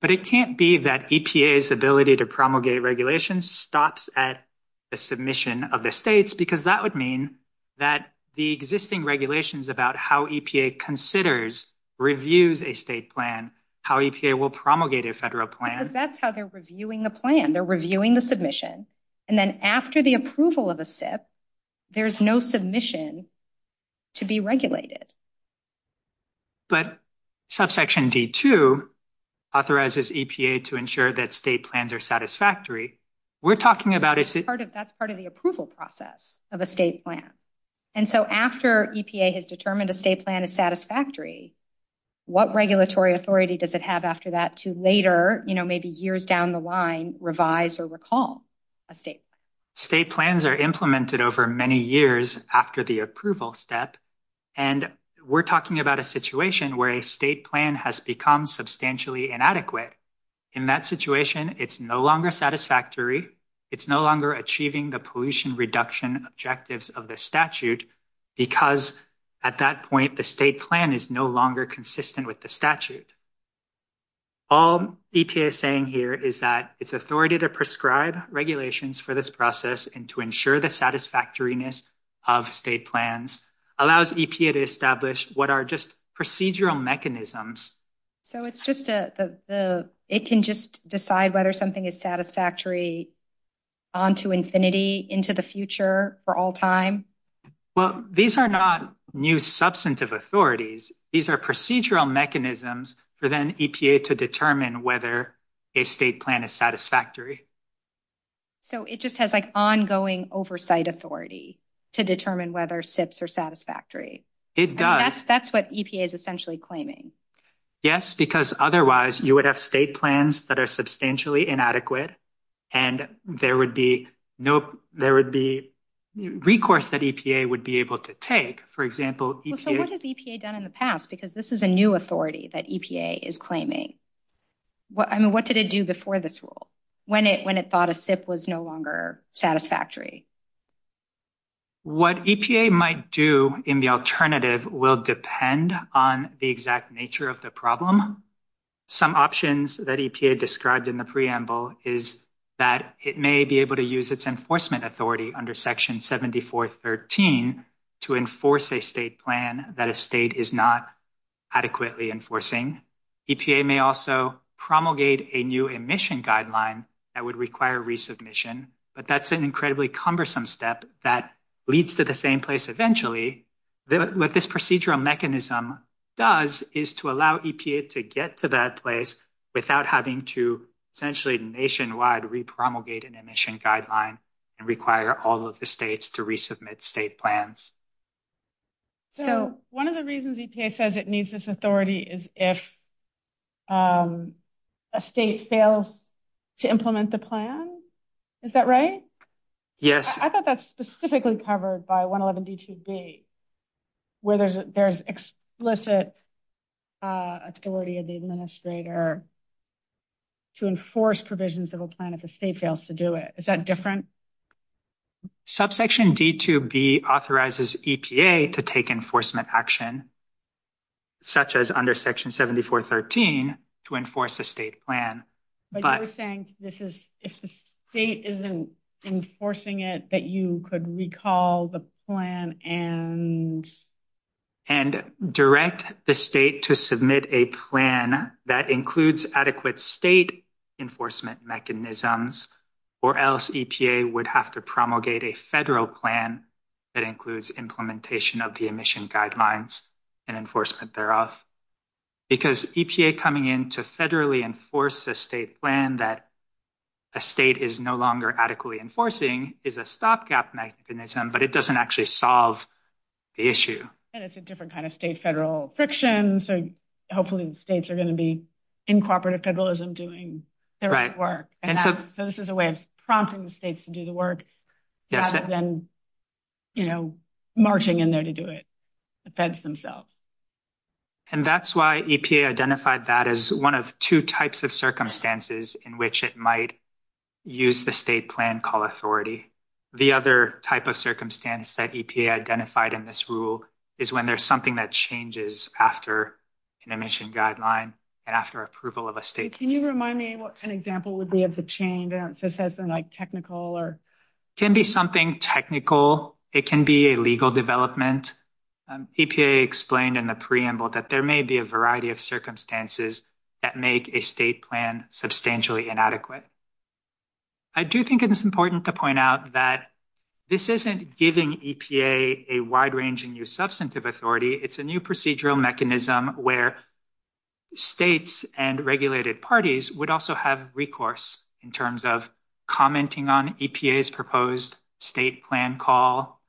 But it can't be that EPA's ability to promulgate regulations stops at the submission of the states, because that would mean that the existing regulations about how EPA considers, reviews a state plan, how EPA will promulgate a federal plan. Because that's how they're reviewing the plan. They're reviewing the submission. And then after the approval of a SIP, there's no submission to be regulated. But subsection D2 authorizes EPA to ensure that state plans are satisfactory. We're talking about a state plan. That's part of the approval process of a state plan. And so after EPA has determined a state plan is satisfactory, what regulatory authority does it have after that to later, you know, maybe years down the line, revise or recall a state plan? State plans are implemented over many years after the approval step. And we're talking about a situation where a state plan has become substantially inadequate. In that situation, it's no longer satisfactory. It's no longer achieving the pollution reduction objectives of the statute, because at that point, the state plan is no longer consistent with the statute. All EPA is saying here is that its authority to prescribe regulations for this process and to ensure the satisfactoriness of state plans allows EPA to establish what are just procedural mechanisms. So it's just the, it can just decide whether something is satisfactory onto infinity into the future for all time? Well, these are not new substantive authorities. These are procedural mechanisms for then EPA to determine whether a state plan is satisfactory. So it just has like ongoing oversight authority to determine whether SIPs are satisfactory. It does. That's what EPA is essentially claiming. Yes, because otherwise you would have state plans that are substantially inadequate, and there would be no, there would be recourse that EPA would be able to take. For example, EPA. So what has EPA done in the past? Because this is a new authority that EPA is claiming. I mean, what did it do before this rule? When it thought a SIP was no longer satisfactory? What EPA might do in the alternative will depend on the exact nature of the problem. Some options that EPA described in the preamble is that it may be able to use its enforcement authority under section 7413 to enforce a state plan that a state is not adequately enforcing. EPA may also promulgate a new emission guideline that would require resubmission, but that's an incredibly cumbersome step that leads to the same place eventually. What this procedural mechanism does is to allow EPA to get to that place without having to essentially nationwide repromulgate an emission guideline and require all of the states to resubmit state plans. So one of the reasons EPA says it needs this authority is if a state fails to implement the plan. Is that right? Yes. I thought that's specifically covered by 111 D2B, where there's explicit authority of the administrator to enforce provisions of a plan if a state fails to do it. Is that different? Subsection D2B authorizes EPA to take enforcement action, such as under section 7413, to enforce a state plan. But you're saying if the state isn't enforcing it, that you could recall the plan and... And direct the state to submit a plan that includes adequate state enforcement mechanisms, or else EPA would have to promulgate a federal plan that includes implementation of the emission guidelines and enforcement thereof. Because EPA coming in to federally enforce a state plan that a state is no longer adequately enforcing is a stopgap mechanism, but it doesn't actually solve the issue. And it's a different kind of state-federal friction. So hopefully the states are going to be in cooperative federalism doing their work. So this is a way of prompting the states to do the work, rather than marching in there to do it. The feds themselves. And that's why EPA identified that as one of two types of circumstances in which it might use the state plan call authority. The other type of circumstance that EPA identified in this rule is when there's something that changes after an emission guideline and after approval of a state plan. So can you remind me what an example would be of the change, just as a technical or... It can be something technical. It can be a legal development. EPA explained in the preamble that there may be a variety of circumstances that make a state plan substantially inadequate. I do think it's important to point out that this isn't giving EPA a wide-ranging new substantive authority. It's a new procedural mechanism where states and regulated parties would also have recourse in terms of commenting on EPA's proposed state plan call,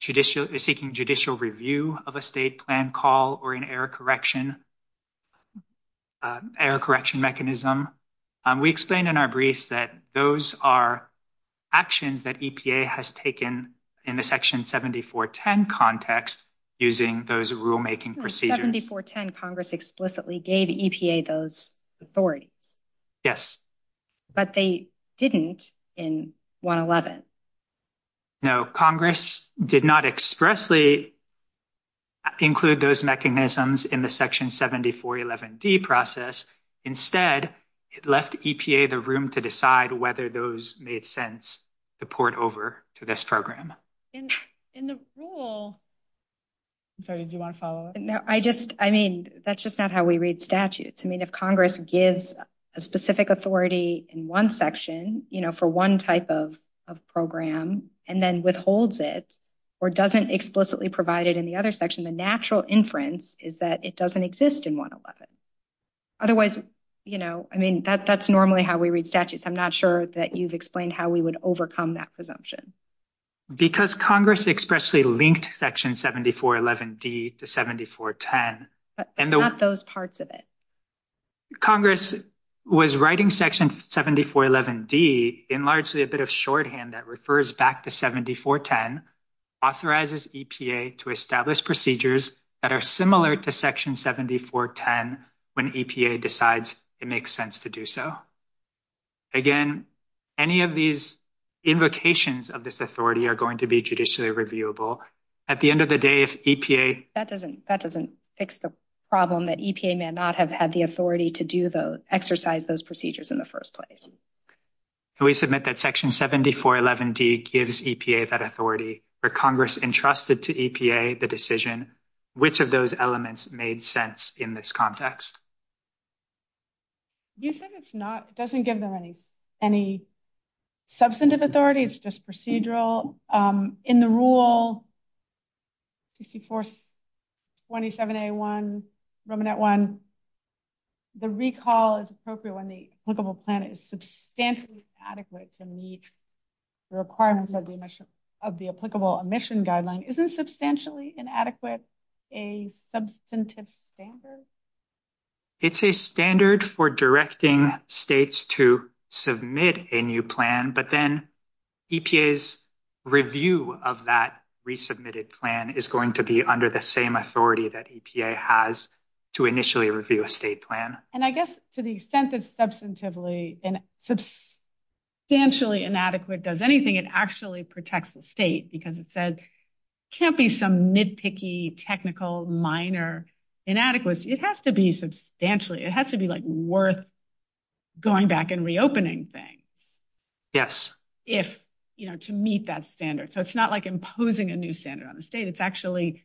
seeking judicial review of a state plan call, or an error correction mechanism. We explained in our brief that those are actions that EPA has taken in the Section 7410 context using those rulemaking procedures. In 7410, Congress explicitly gave EPA those authorities. Yes. But they didn't in 111. No, Congress did not expressly include those mechanisms in the Section 7411D process. Instead, it left EPA the room to decide whether those made sense to port over to this program. In the rule... I'm sorry. Do you want to follow up? No, I just... I mean, that's just not how we read statutes. I mean, if Congress gives a specific authority in one section, you know, for one type of program and then withholds it or doesn't explicitly provide it in the other section, the natural inference is that it doesn't exist in 111. Otherwise, you know, I mean, that's normally how we read statutes. I'm not sure that you've explained how we would overcome that presumption. Because Congress expressly linked Section 7411D to 7410. Not those parts of it. Congress was writing Section 7411D in largely a bit of shorthand that refers back to 7410, authorizes EPA to establish procedures that are similar to Section 7410 when EPA decides it makes sense to do so. Again, any of these invocations of this authority are going to be judicially reviewable. At the end of the day, if EPA... That doesn't fix the problem that EPA may not have had the authority to do those, exercise those procedures in the first place. Can we submit that Section 7411D gives EPA that authority, or Congress entrusted to EPA the decision, which of those elements made sense in this context? You said it doesn't give them any substantive authority, it's just procedural. In the rule 6427A1, Romanet 1, the recall is appropriate when the applicable plan is substantially inadequate to meet the requirements of the applicable emission guideline. Isn't substantially inadequate a substantive standard? It's a standard for directing states to submit a new plan, but then EPA's review of that resubmitted plan is going to be under the same authority that EPA has to initially review a state plan. I guess to the extent that substantially inadequate does anything, it actually protects the state because it says, can't be some nitpicky, technical, minor, inadequate. It has to be substantially. It has to be worth going back and reopening things to meet that standard. So, it's not like imposing a new standard on the state. It's actually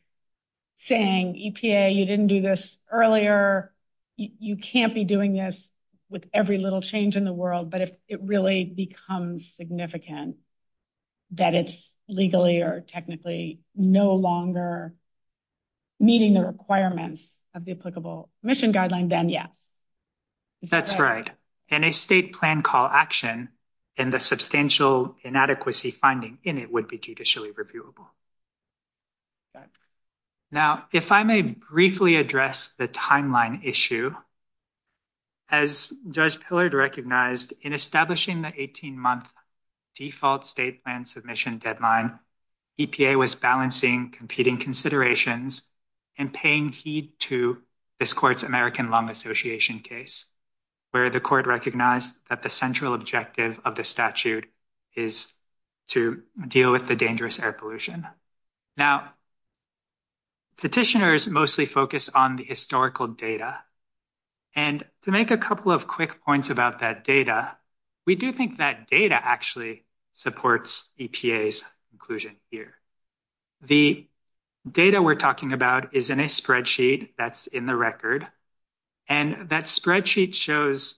saying, EPA, you didn't do this earlier. You can't be doing this with every little change in the world. But if it really becomes significant that it's legally or technically no longer meeting the requirements of the applicable emission guideline, then yeah. That's right. In a state plan call action, then the substantial inadequacy finding in it would be judicially reviewable. Now, if I may briefly address the timeline issue. As Judge Pillard recognized, in establishing the 18-month default state plan submission deadline, EPA was balancing competing considerations and paying heed to this court's American Lung Association case, where the court recognized that the central objective of the statute is to deal with the dangerous air pollution. Now, petitioners mostly focus on the historical data. And to make a couple of quick points about that data, we do think that data actually supports EPA's conclusion here. The data we're talking about is in a spreadsheet that's in the record. And that spreadsheet shows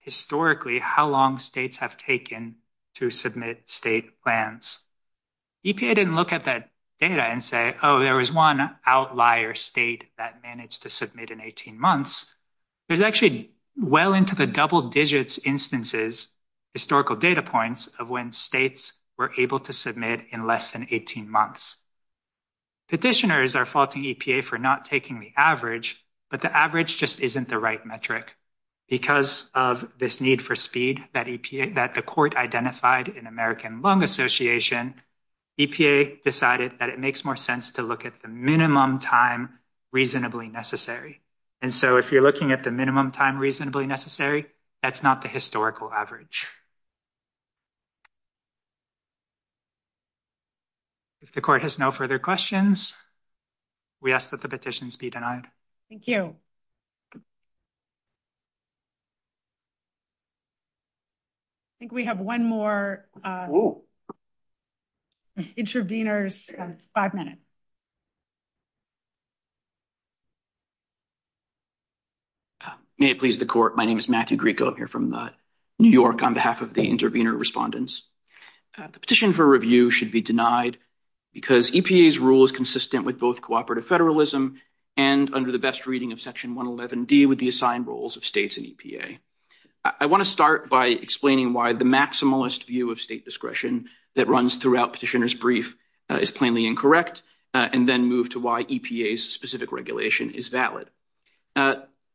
historically how long states have taken to submit state plans. EPA didn't look at that data and say, oh, there was one outlier state that managed to submit in 18 months. There's actually well into the double digits instances, historical data points of when states were able to submit in less than 18 months. Petitioners are faulting EPA for not taking the average, but the average just isn't the right metric. Because of this need for speed that the court identified in American Lung Association, EPA decided that it makes more sense to look at the minimum time reasonably necessary. And so if you're looking at the minimum time reasonably necessary, that's not the historical average. If the court has no further questions. We ask that the petitions be denied. Thank you. I think we have one more. Interveners, five minutes. May it please the court. My name is Matthew Greco. I'm here from New York on behalf of the intervener respondents. The petition for review should be denied because EPA's rule is consistent with both cooperative federalism and under the best reading of Section 111 D with the assigned roles of states and EPA. I want to start by explaining why the maximalist view of state discretion that runs throughout petitioner's brief is plainly incorrect and then move to why EPA's specific regulation is valid.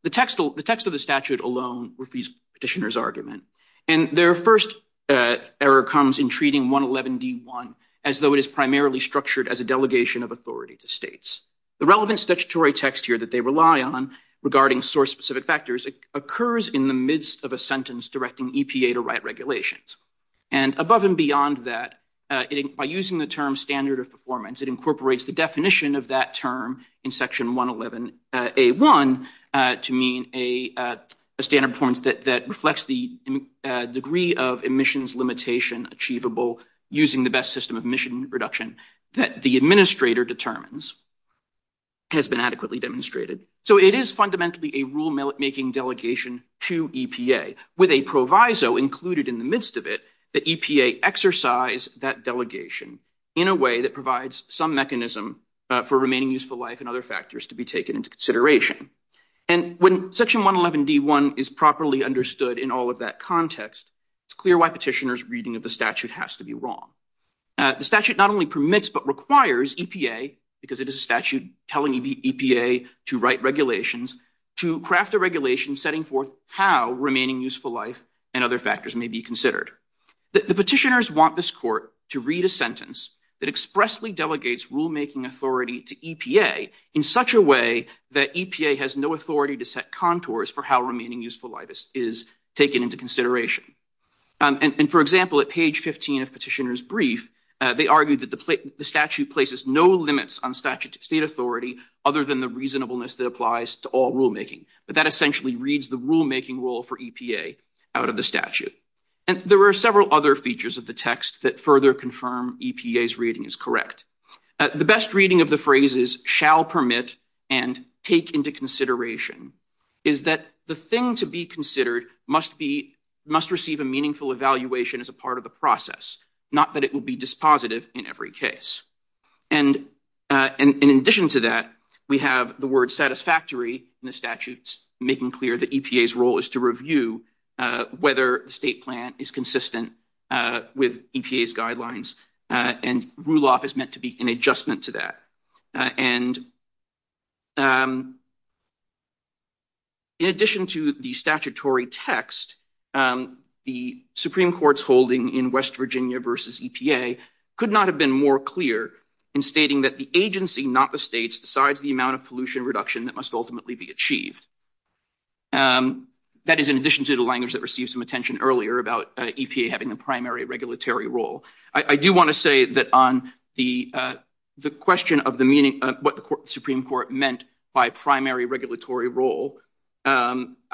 The text of the statute alone refutes petitioner's argument. And their first error comes in treating 111 D1 as though it is primarily structured as a delegation of authority to states. The relevant statutory text here that they rely on regarding source-specific factors occurs in the midst of a sentence directing EPA to write regulations. And above and beyond that, by using the term standard of performance, it incorporates the definition of that term in Section 111 A1 to mean a standard of performance that reflects the degree of emissions limitation achievable using the best system of emission reduction that the administrator determines. This has been adequately demonstrated. So it is fundamentally a rulemaking delegation to EPA with a proviso included in the midst of it that EPA exercise that delegation in a way that provides some mechanism for remaining useful life and other factors to be taken into consideration. And when Section 111 D1 is properly understood in all of that context, it's clear why petitioner's reading of the statute has to be wrong. The statute not only permits but requires EPA, because it is a statute telling EPA to write regulations, to craft a regulation setting forth how remaining useful life and other factors may be considered. The petitioners want this court to read a sentence that expressly delegates rulemaking authority to EPA in such a way that EPA has no authority to set contours for how remaining useful life is taken into consideration. And for example, at page 15 of petitioner's brief, they argued that the statute places no limits on statute state authority other than the reasonableness that applies to all rulemaking. But that essentially reads the rulemaking rule for EPA out of the statute. And there were several other features of the text that further confirm EPA's reading is correct. The best reading of the phrase is shall permit and take into consideration is that the thing to be considered must receive a meaningful evaluation as a part of the process, not that it will be dispositive in every case. And in addition to that, we have the word satisfactory in the statutes making clear that EPA's role is to review whether the state plan is consistent with EPA's guidelines. And RULOF is meant to be an adjustment to that. And in addition to the statutory text, the Supreme Court's holding in West Virginia versus EPA could not have been more clear in stating that the agency, not the states, decides the amount of pollution reduction that must ultimately be achieved. That is in addition to the language that received some attention earlier about EPA having a primary regulatory role. I do want to say that on the question of the meaning of what the Supreme Court meant by primary regulatory role, I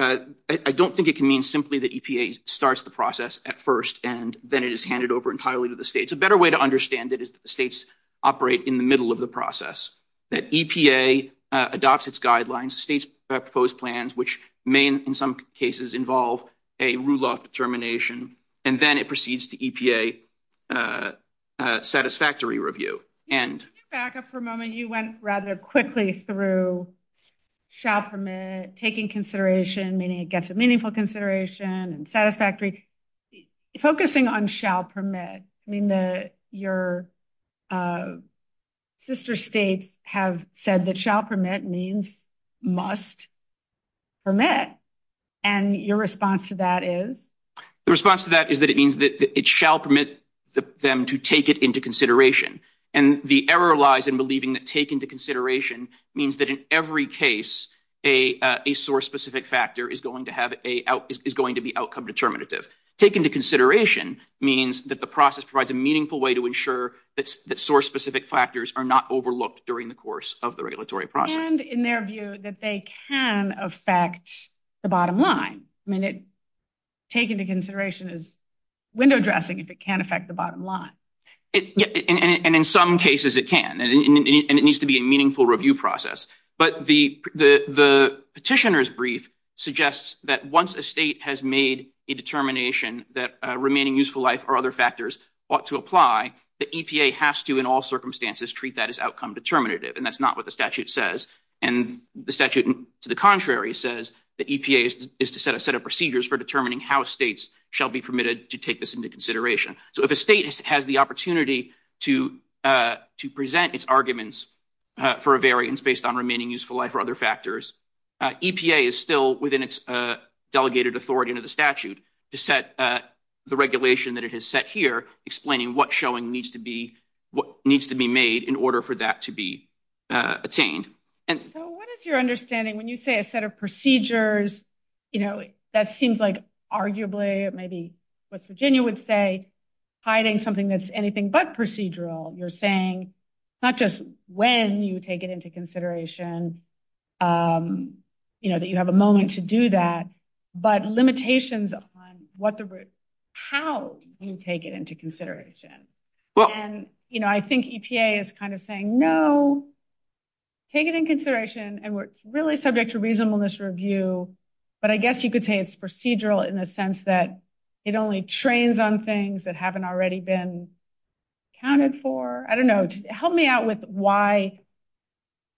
don't think it can mean simply that EPA starts the process at first and then it is handed over entirely to the states. It's a better way to understand it is that the states operate in the middle of the process, that EPA adopts its guidelines, states propose plans, which may in some cases involve a RULOF determination, and then it proceeds to EPA satisfactory review. Back up for a moment. You went rather quickly through shall permit, taking consideration, meaning it gets a meaningful consideration, and satisfactory. Focusing on shall permit, your sister states have said that shall permit means must permit. And your response to that is? The response to that is that it means that it shall permit them to take it into consideration. And the error lies in believing that take into consideration means that in every case, a source specific factor is going to be outcome determinative. Take into consideration means that the process provides a meaningful way to ensure that source specific factors are not overlooked during the course of the regulatory process. And in their view, that they can affect the bottom line. I mean, take into consideration is window dressing, if it can affect the bottom line. And in some cases it can. And it needs to be a meaningful review process. But the petitioner's brief suggests that once a state has made a determination that remaining useful life or other factors ought to apply, the EPA has to in all circumstances treat that as outcome determinative. And that's not what the statute says. And the statute, to the contrary, says the EPA is to set a set of procedures for determining how states shall be permitted to take this into consideration. So if a state has the opportunity to present its arguments for a variance based on remaining useful life or other factors, EPA is still within its delegated authority under the statute to set the regulation that it has set here, explaining what showing needs to be made in order for that to be met. What is your understanding when you say a set of procedures? You know, that seems like arguably it may be what Virginia would say, hiding something that's anything but procedural. You're saying not just when you take it into consideration, you know, that you have a moment to do that. But limitations on how you take it into consideration. And, you know, I think EPA is kind of saying, no, take it in consideration. And we're really subject to reasonableness review. But I guess you could say it's procedural in the sense that it only trains on things that haven't already been counted for. I don't know. Help me out with why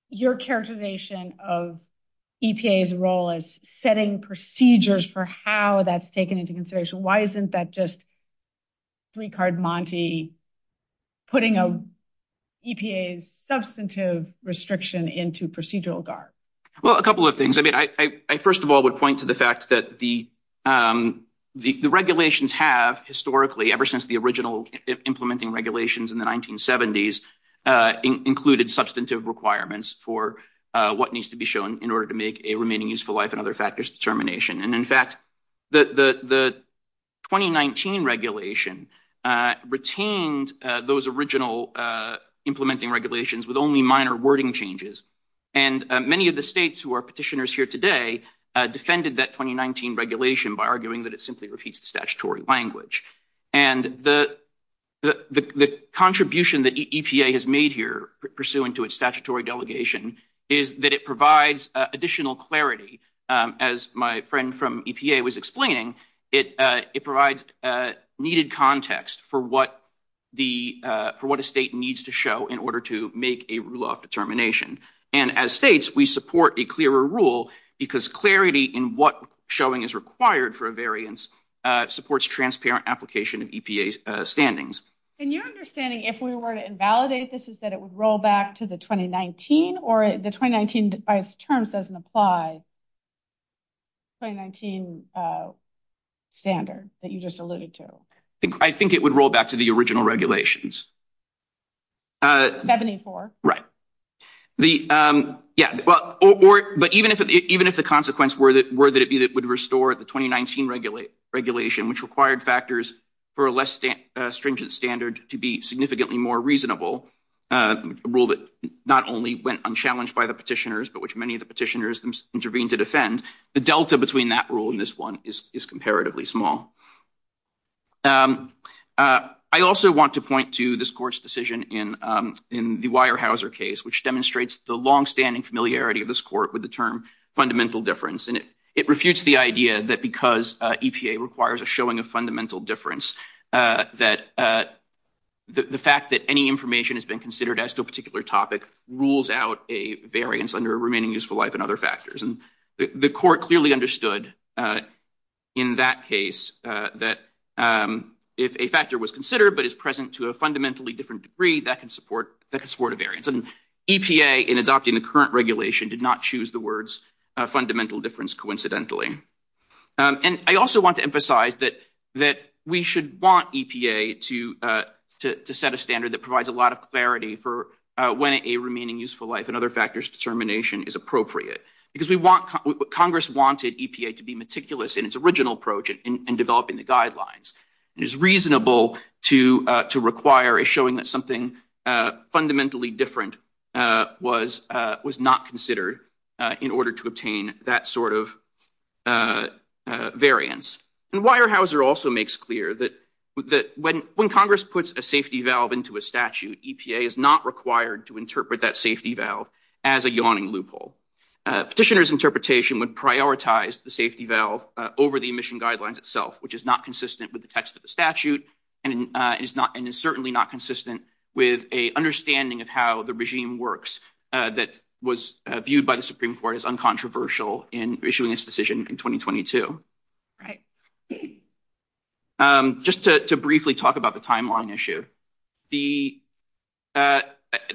your characterization of EPA's role is setting procedures for how that's taken into consideration. Why isn't that just three card Monte putting EPA's substantive restriction into procedural guard? Well, a couple of things. I mean, I first of all would point to the fact that the regulations have historically, ever since the original implementing regulations in the 1970s, included substantive requirements for what needs to be shown in order to make a remaining useful life and other factors determination. And in fact, the 2019 regulation retained those original implementing regulations with only minor wording changes. And many of the states who are petitioners here today defended that 2019 regulation by arguing that it simply repeats the statutory language. And the contribution that EPA has made here pursuant to its statutory delegation is that it provides additional clarity. As my friend from EPA was explaining, it provides needed context for what a state needs to show in order to make a rule of determination. And as states, we support a clearer rule because clarity in what showing is required for a variance supports transparent application of EPA's standings. And your understanding, if we were to invalidate this, is that it would roll back to the 2019 or the 2019 device terms doesn't apply 2019 standards that you just alluded to. I think it would roll back to the original regulations. 74. Right. Yeah, but even if the consequence were that it would restore the 2019 regulation, which required factors for a less stringent standard to be significantly more reasonable, a rule that not only went unchallenged by the petitioners, but which many of the petitioners intervened to defend, the delta between that rule and this one is comparatively small. I also want to point to this court's decision in the Weyerhaeuser case, which demonstrates the longstanding familiarity of this court with the term fundamental difference. And it refutes the idea that because EPA requires a showing of fundamental difference, that the fact that any information has been considered as to a particular topic rules out a variance under a remaining useful life and other factors. And the court clearly understood in that case that if a factor was considered but is present to a fundamentally different degree, that can support a variance. And EPA, in adopting the current regulation, did not choose the words fundamental difference coincidentally. And I also want to emphasize that we should want EPA to set a standard that provides a lot of clarity for when a remaining useful life and other factors determination is appropriate. Congress wanted EPA to be meticulous in its original approach in developing the guidelines. It is reasonable to require a showing that something fundamentally different was not considered in order to obtain that sort of variance. And Weyerhaeuser also makes clear that when Congress puts a safety valve into a statute, EPA is not required to interpret that safety valve as a yawning loophole. Petitioner's interpretation would prioritize the safety valve over the emission guidelines itself, which is not consistent with the text of the statute and is certainly not consistent with an understanding of how the regime works that was viewed by the Supreme Court as uncontroversial in issuing this decision in 2022. Just to briefly talk about the timeline issue. The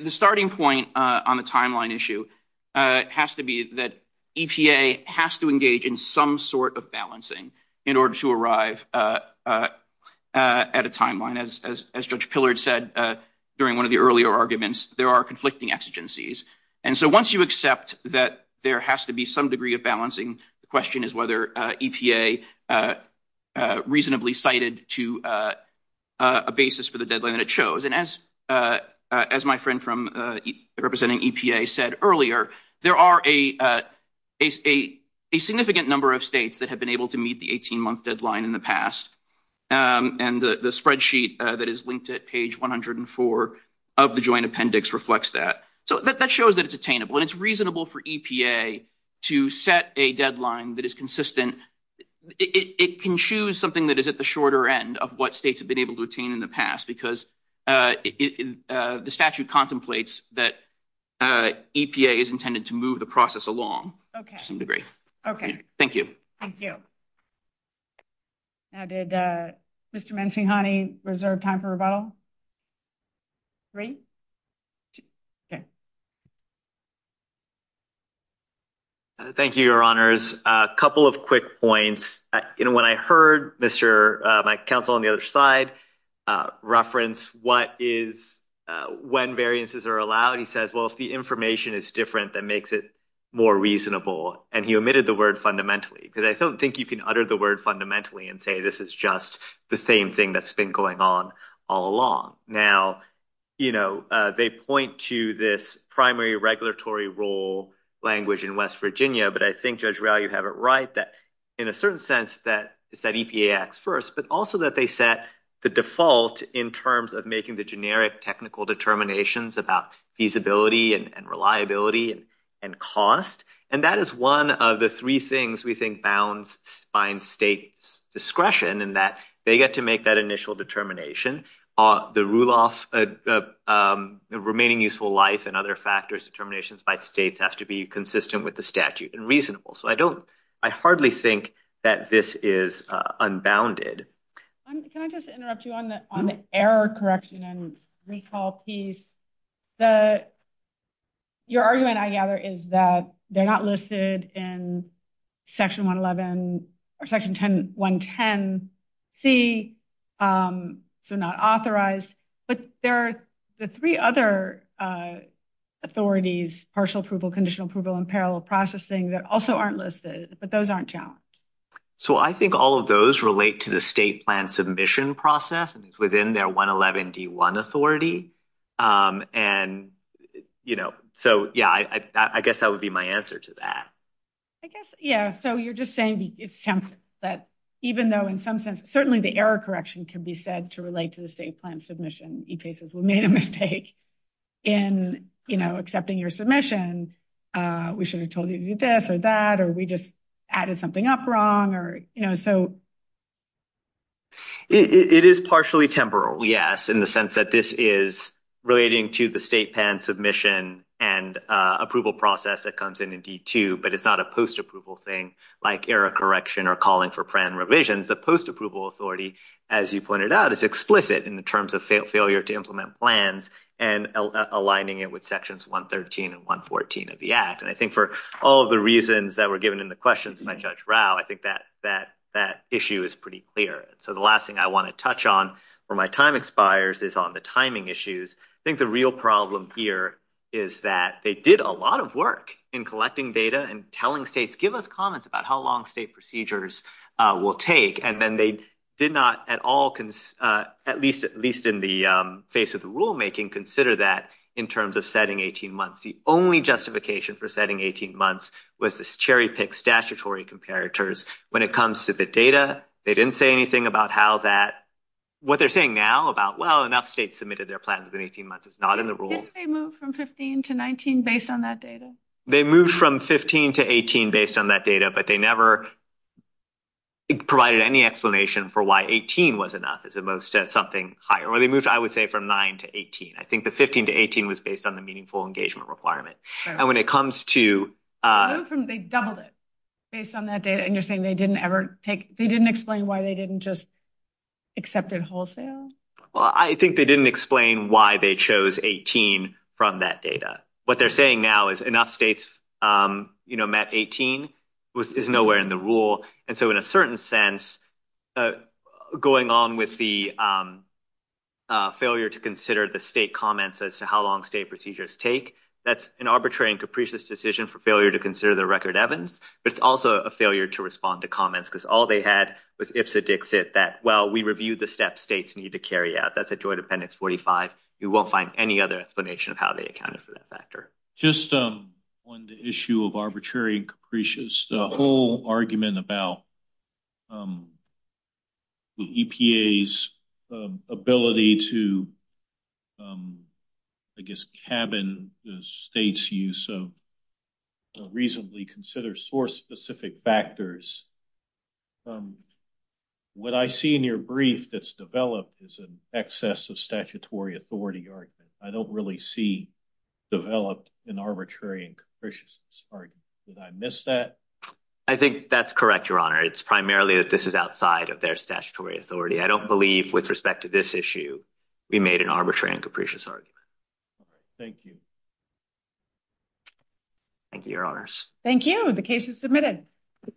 starting point on the timeline issue has to be that EPA has to engage in some sort of balancing in order to arrive at a timeline. As Judge Pillard said during one of the earlier arguments, there are conflicting exigencies. Once you accept that there has to be some degree of balancing, the question is whether EPA reasonably cited to a basis for the deadline that it shows. As my friend from representing EPA said earlier, there are a significant number of states that have been able to meet the 18-month deadline in the past. The spreadsheet that is linked at page 104 of the Joint Appendix reflects that. That shows that it's attainable. It's reasonable for EPA to set a deadline that is consistent. It can choose something that is at the shorter end of what states have been able to attain in the past because the statute contemplates that EPA is intended to move the process along to some degree. Thank you. Thank you. Now, did Mr. Manchinhani reserve time for a vote? Three? Okay. Thank you, Your Honors. A couple of quick points. When I heard my counsel on the other side reference what is when variances are allowed, he says, well, if the information is different, that makes it more reasonable. And he omitted the word fundamentally because I don't think you can utter the word fundamentally and say this is just the same thing that's been going on all along. Now, you know, they point to this primary regulatory rule language in West Virginia. But I think, Judge Rao, you have it right that in a certain sense that EPA acts first, but also that they set the default in terms of making the generic technical determinations about feasibility and reliability and cost. And that is one of the three things we think bounds find state discretion in that they get to make that initial determination. The rule of remaining useful life and other factors determinations by states have to be consistent with the statute and reasonable. So I hardly think that this is unbounded. Can I just interrupt you on the error correction and recall piece? Your argument, I gather, is that they're not listed in section 111 or section 110C. They're not authorized. But there are the three other authorities, partial approval, conditional approval, and parallel processing that also aren't listed. But those aren't challenged. So I think all of those relate to the state plan submission process within their 111D1 authority. And, you know, so, yeah, I guess that would be my answer to that. I guess, yeah. So you're just saying that even though in some sense certainly the error correction can be said to relate to the state plan submission, EPA says we made a mistake in, you know, accepting your submission. We should have told you this or that or we just added something up wrong or, you know, so. It is partially temporal, yes, in the sense that this is relating to the state plan submission and approval process that comes in in D2. But it's not a post-approval thing like error correction or calling for plan revisions. The post-approval authority, as you pointed out, is explicit in terms of failure to implement plans and aligning it with sections 113 and 114 of the Act. And I think for all of the reasons that were given in the questions by Judge Rao, I think that issue is pretty clear. So the last thing I want to touch on where my time expires is on the timing issues. I think the real problem here is that they did a lot of work in collecting data and telling states, give us comments about how long state procedures will take. And then they did not at all, at least in the face of the rulemaking, consider that in terms of setting 18 months. The only justification for setting 18 months was this cherry-picked statutory comparators when it comes to the data. They didn't say anything about how that, what they're saying now about, well, enough states submitted their plans in 18 months. It's not in the rule. Did they move from 15 to 19 based on that data? They moved from 15 to 18 based on that data, but they never provided any explanation for why 18 was enough as opposed to something higher. Or they moved, I would say, from 9 to 18. I think the 15 to 18 was based on the meaningful engagement requirement. They doubled it based on that data, and you're saying they didn't explain why they didn't just accept it wholesale? I think they didn't explain why they chose 18 from that data. What they're saying now is enough states met 18, which is nowhere in the rule. In a certain sense, going on with the failure to consider the state comments as to how long state procedures take, that's an arbitrary and capricious decision for failure to consider the record evidence. It's also a failure to respond to comments because all they had was ifs, or dixits that, well, we reviewed the steps states need to carry out. That's a Joint Appendix 45. We won't find any other explanation of how they accounted for that factor. Just on the issue of arbitrary and capricious, the whole argument about the EPA's ability to, I guess, cabin the state's use of reasonably considered source-specific factors. What I see in your brief that's developed is an excess of statutory authority argument. I don't really see developed an arbitrary and capricious argument. Did I miss that? I think that's correct, Your Honor. It's primarily that this is outside of their statutory authority. I don't believe, with respect to this issue, we made an arbitrary and capricious argument. Thank you. Thank you, Your Honors. Thank you. The case is submitted. Thank you.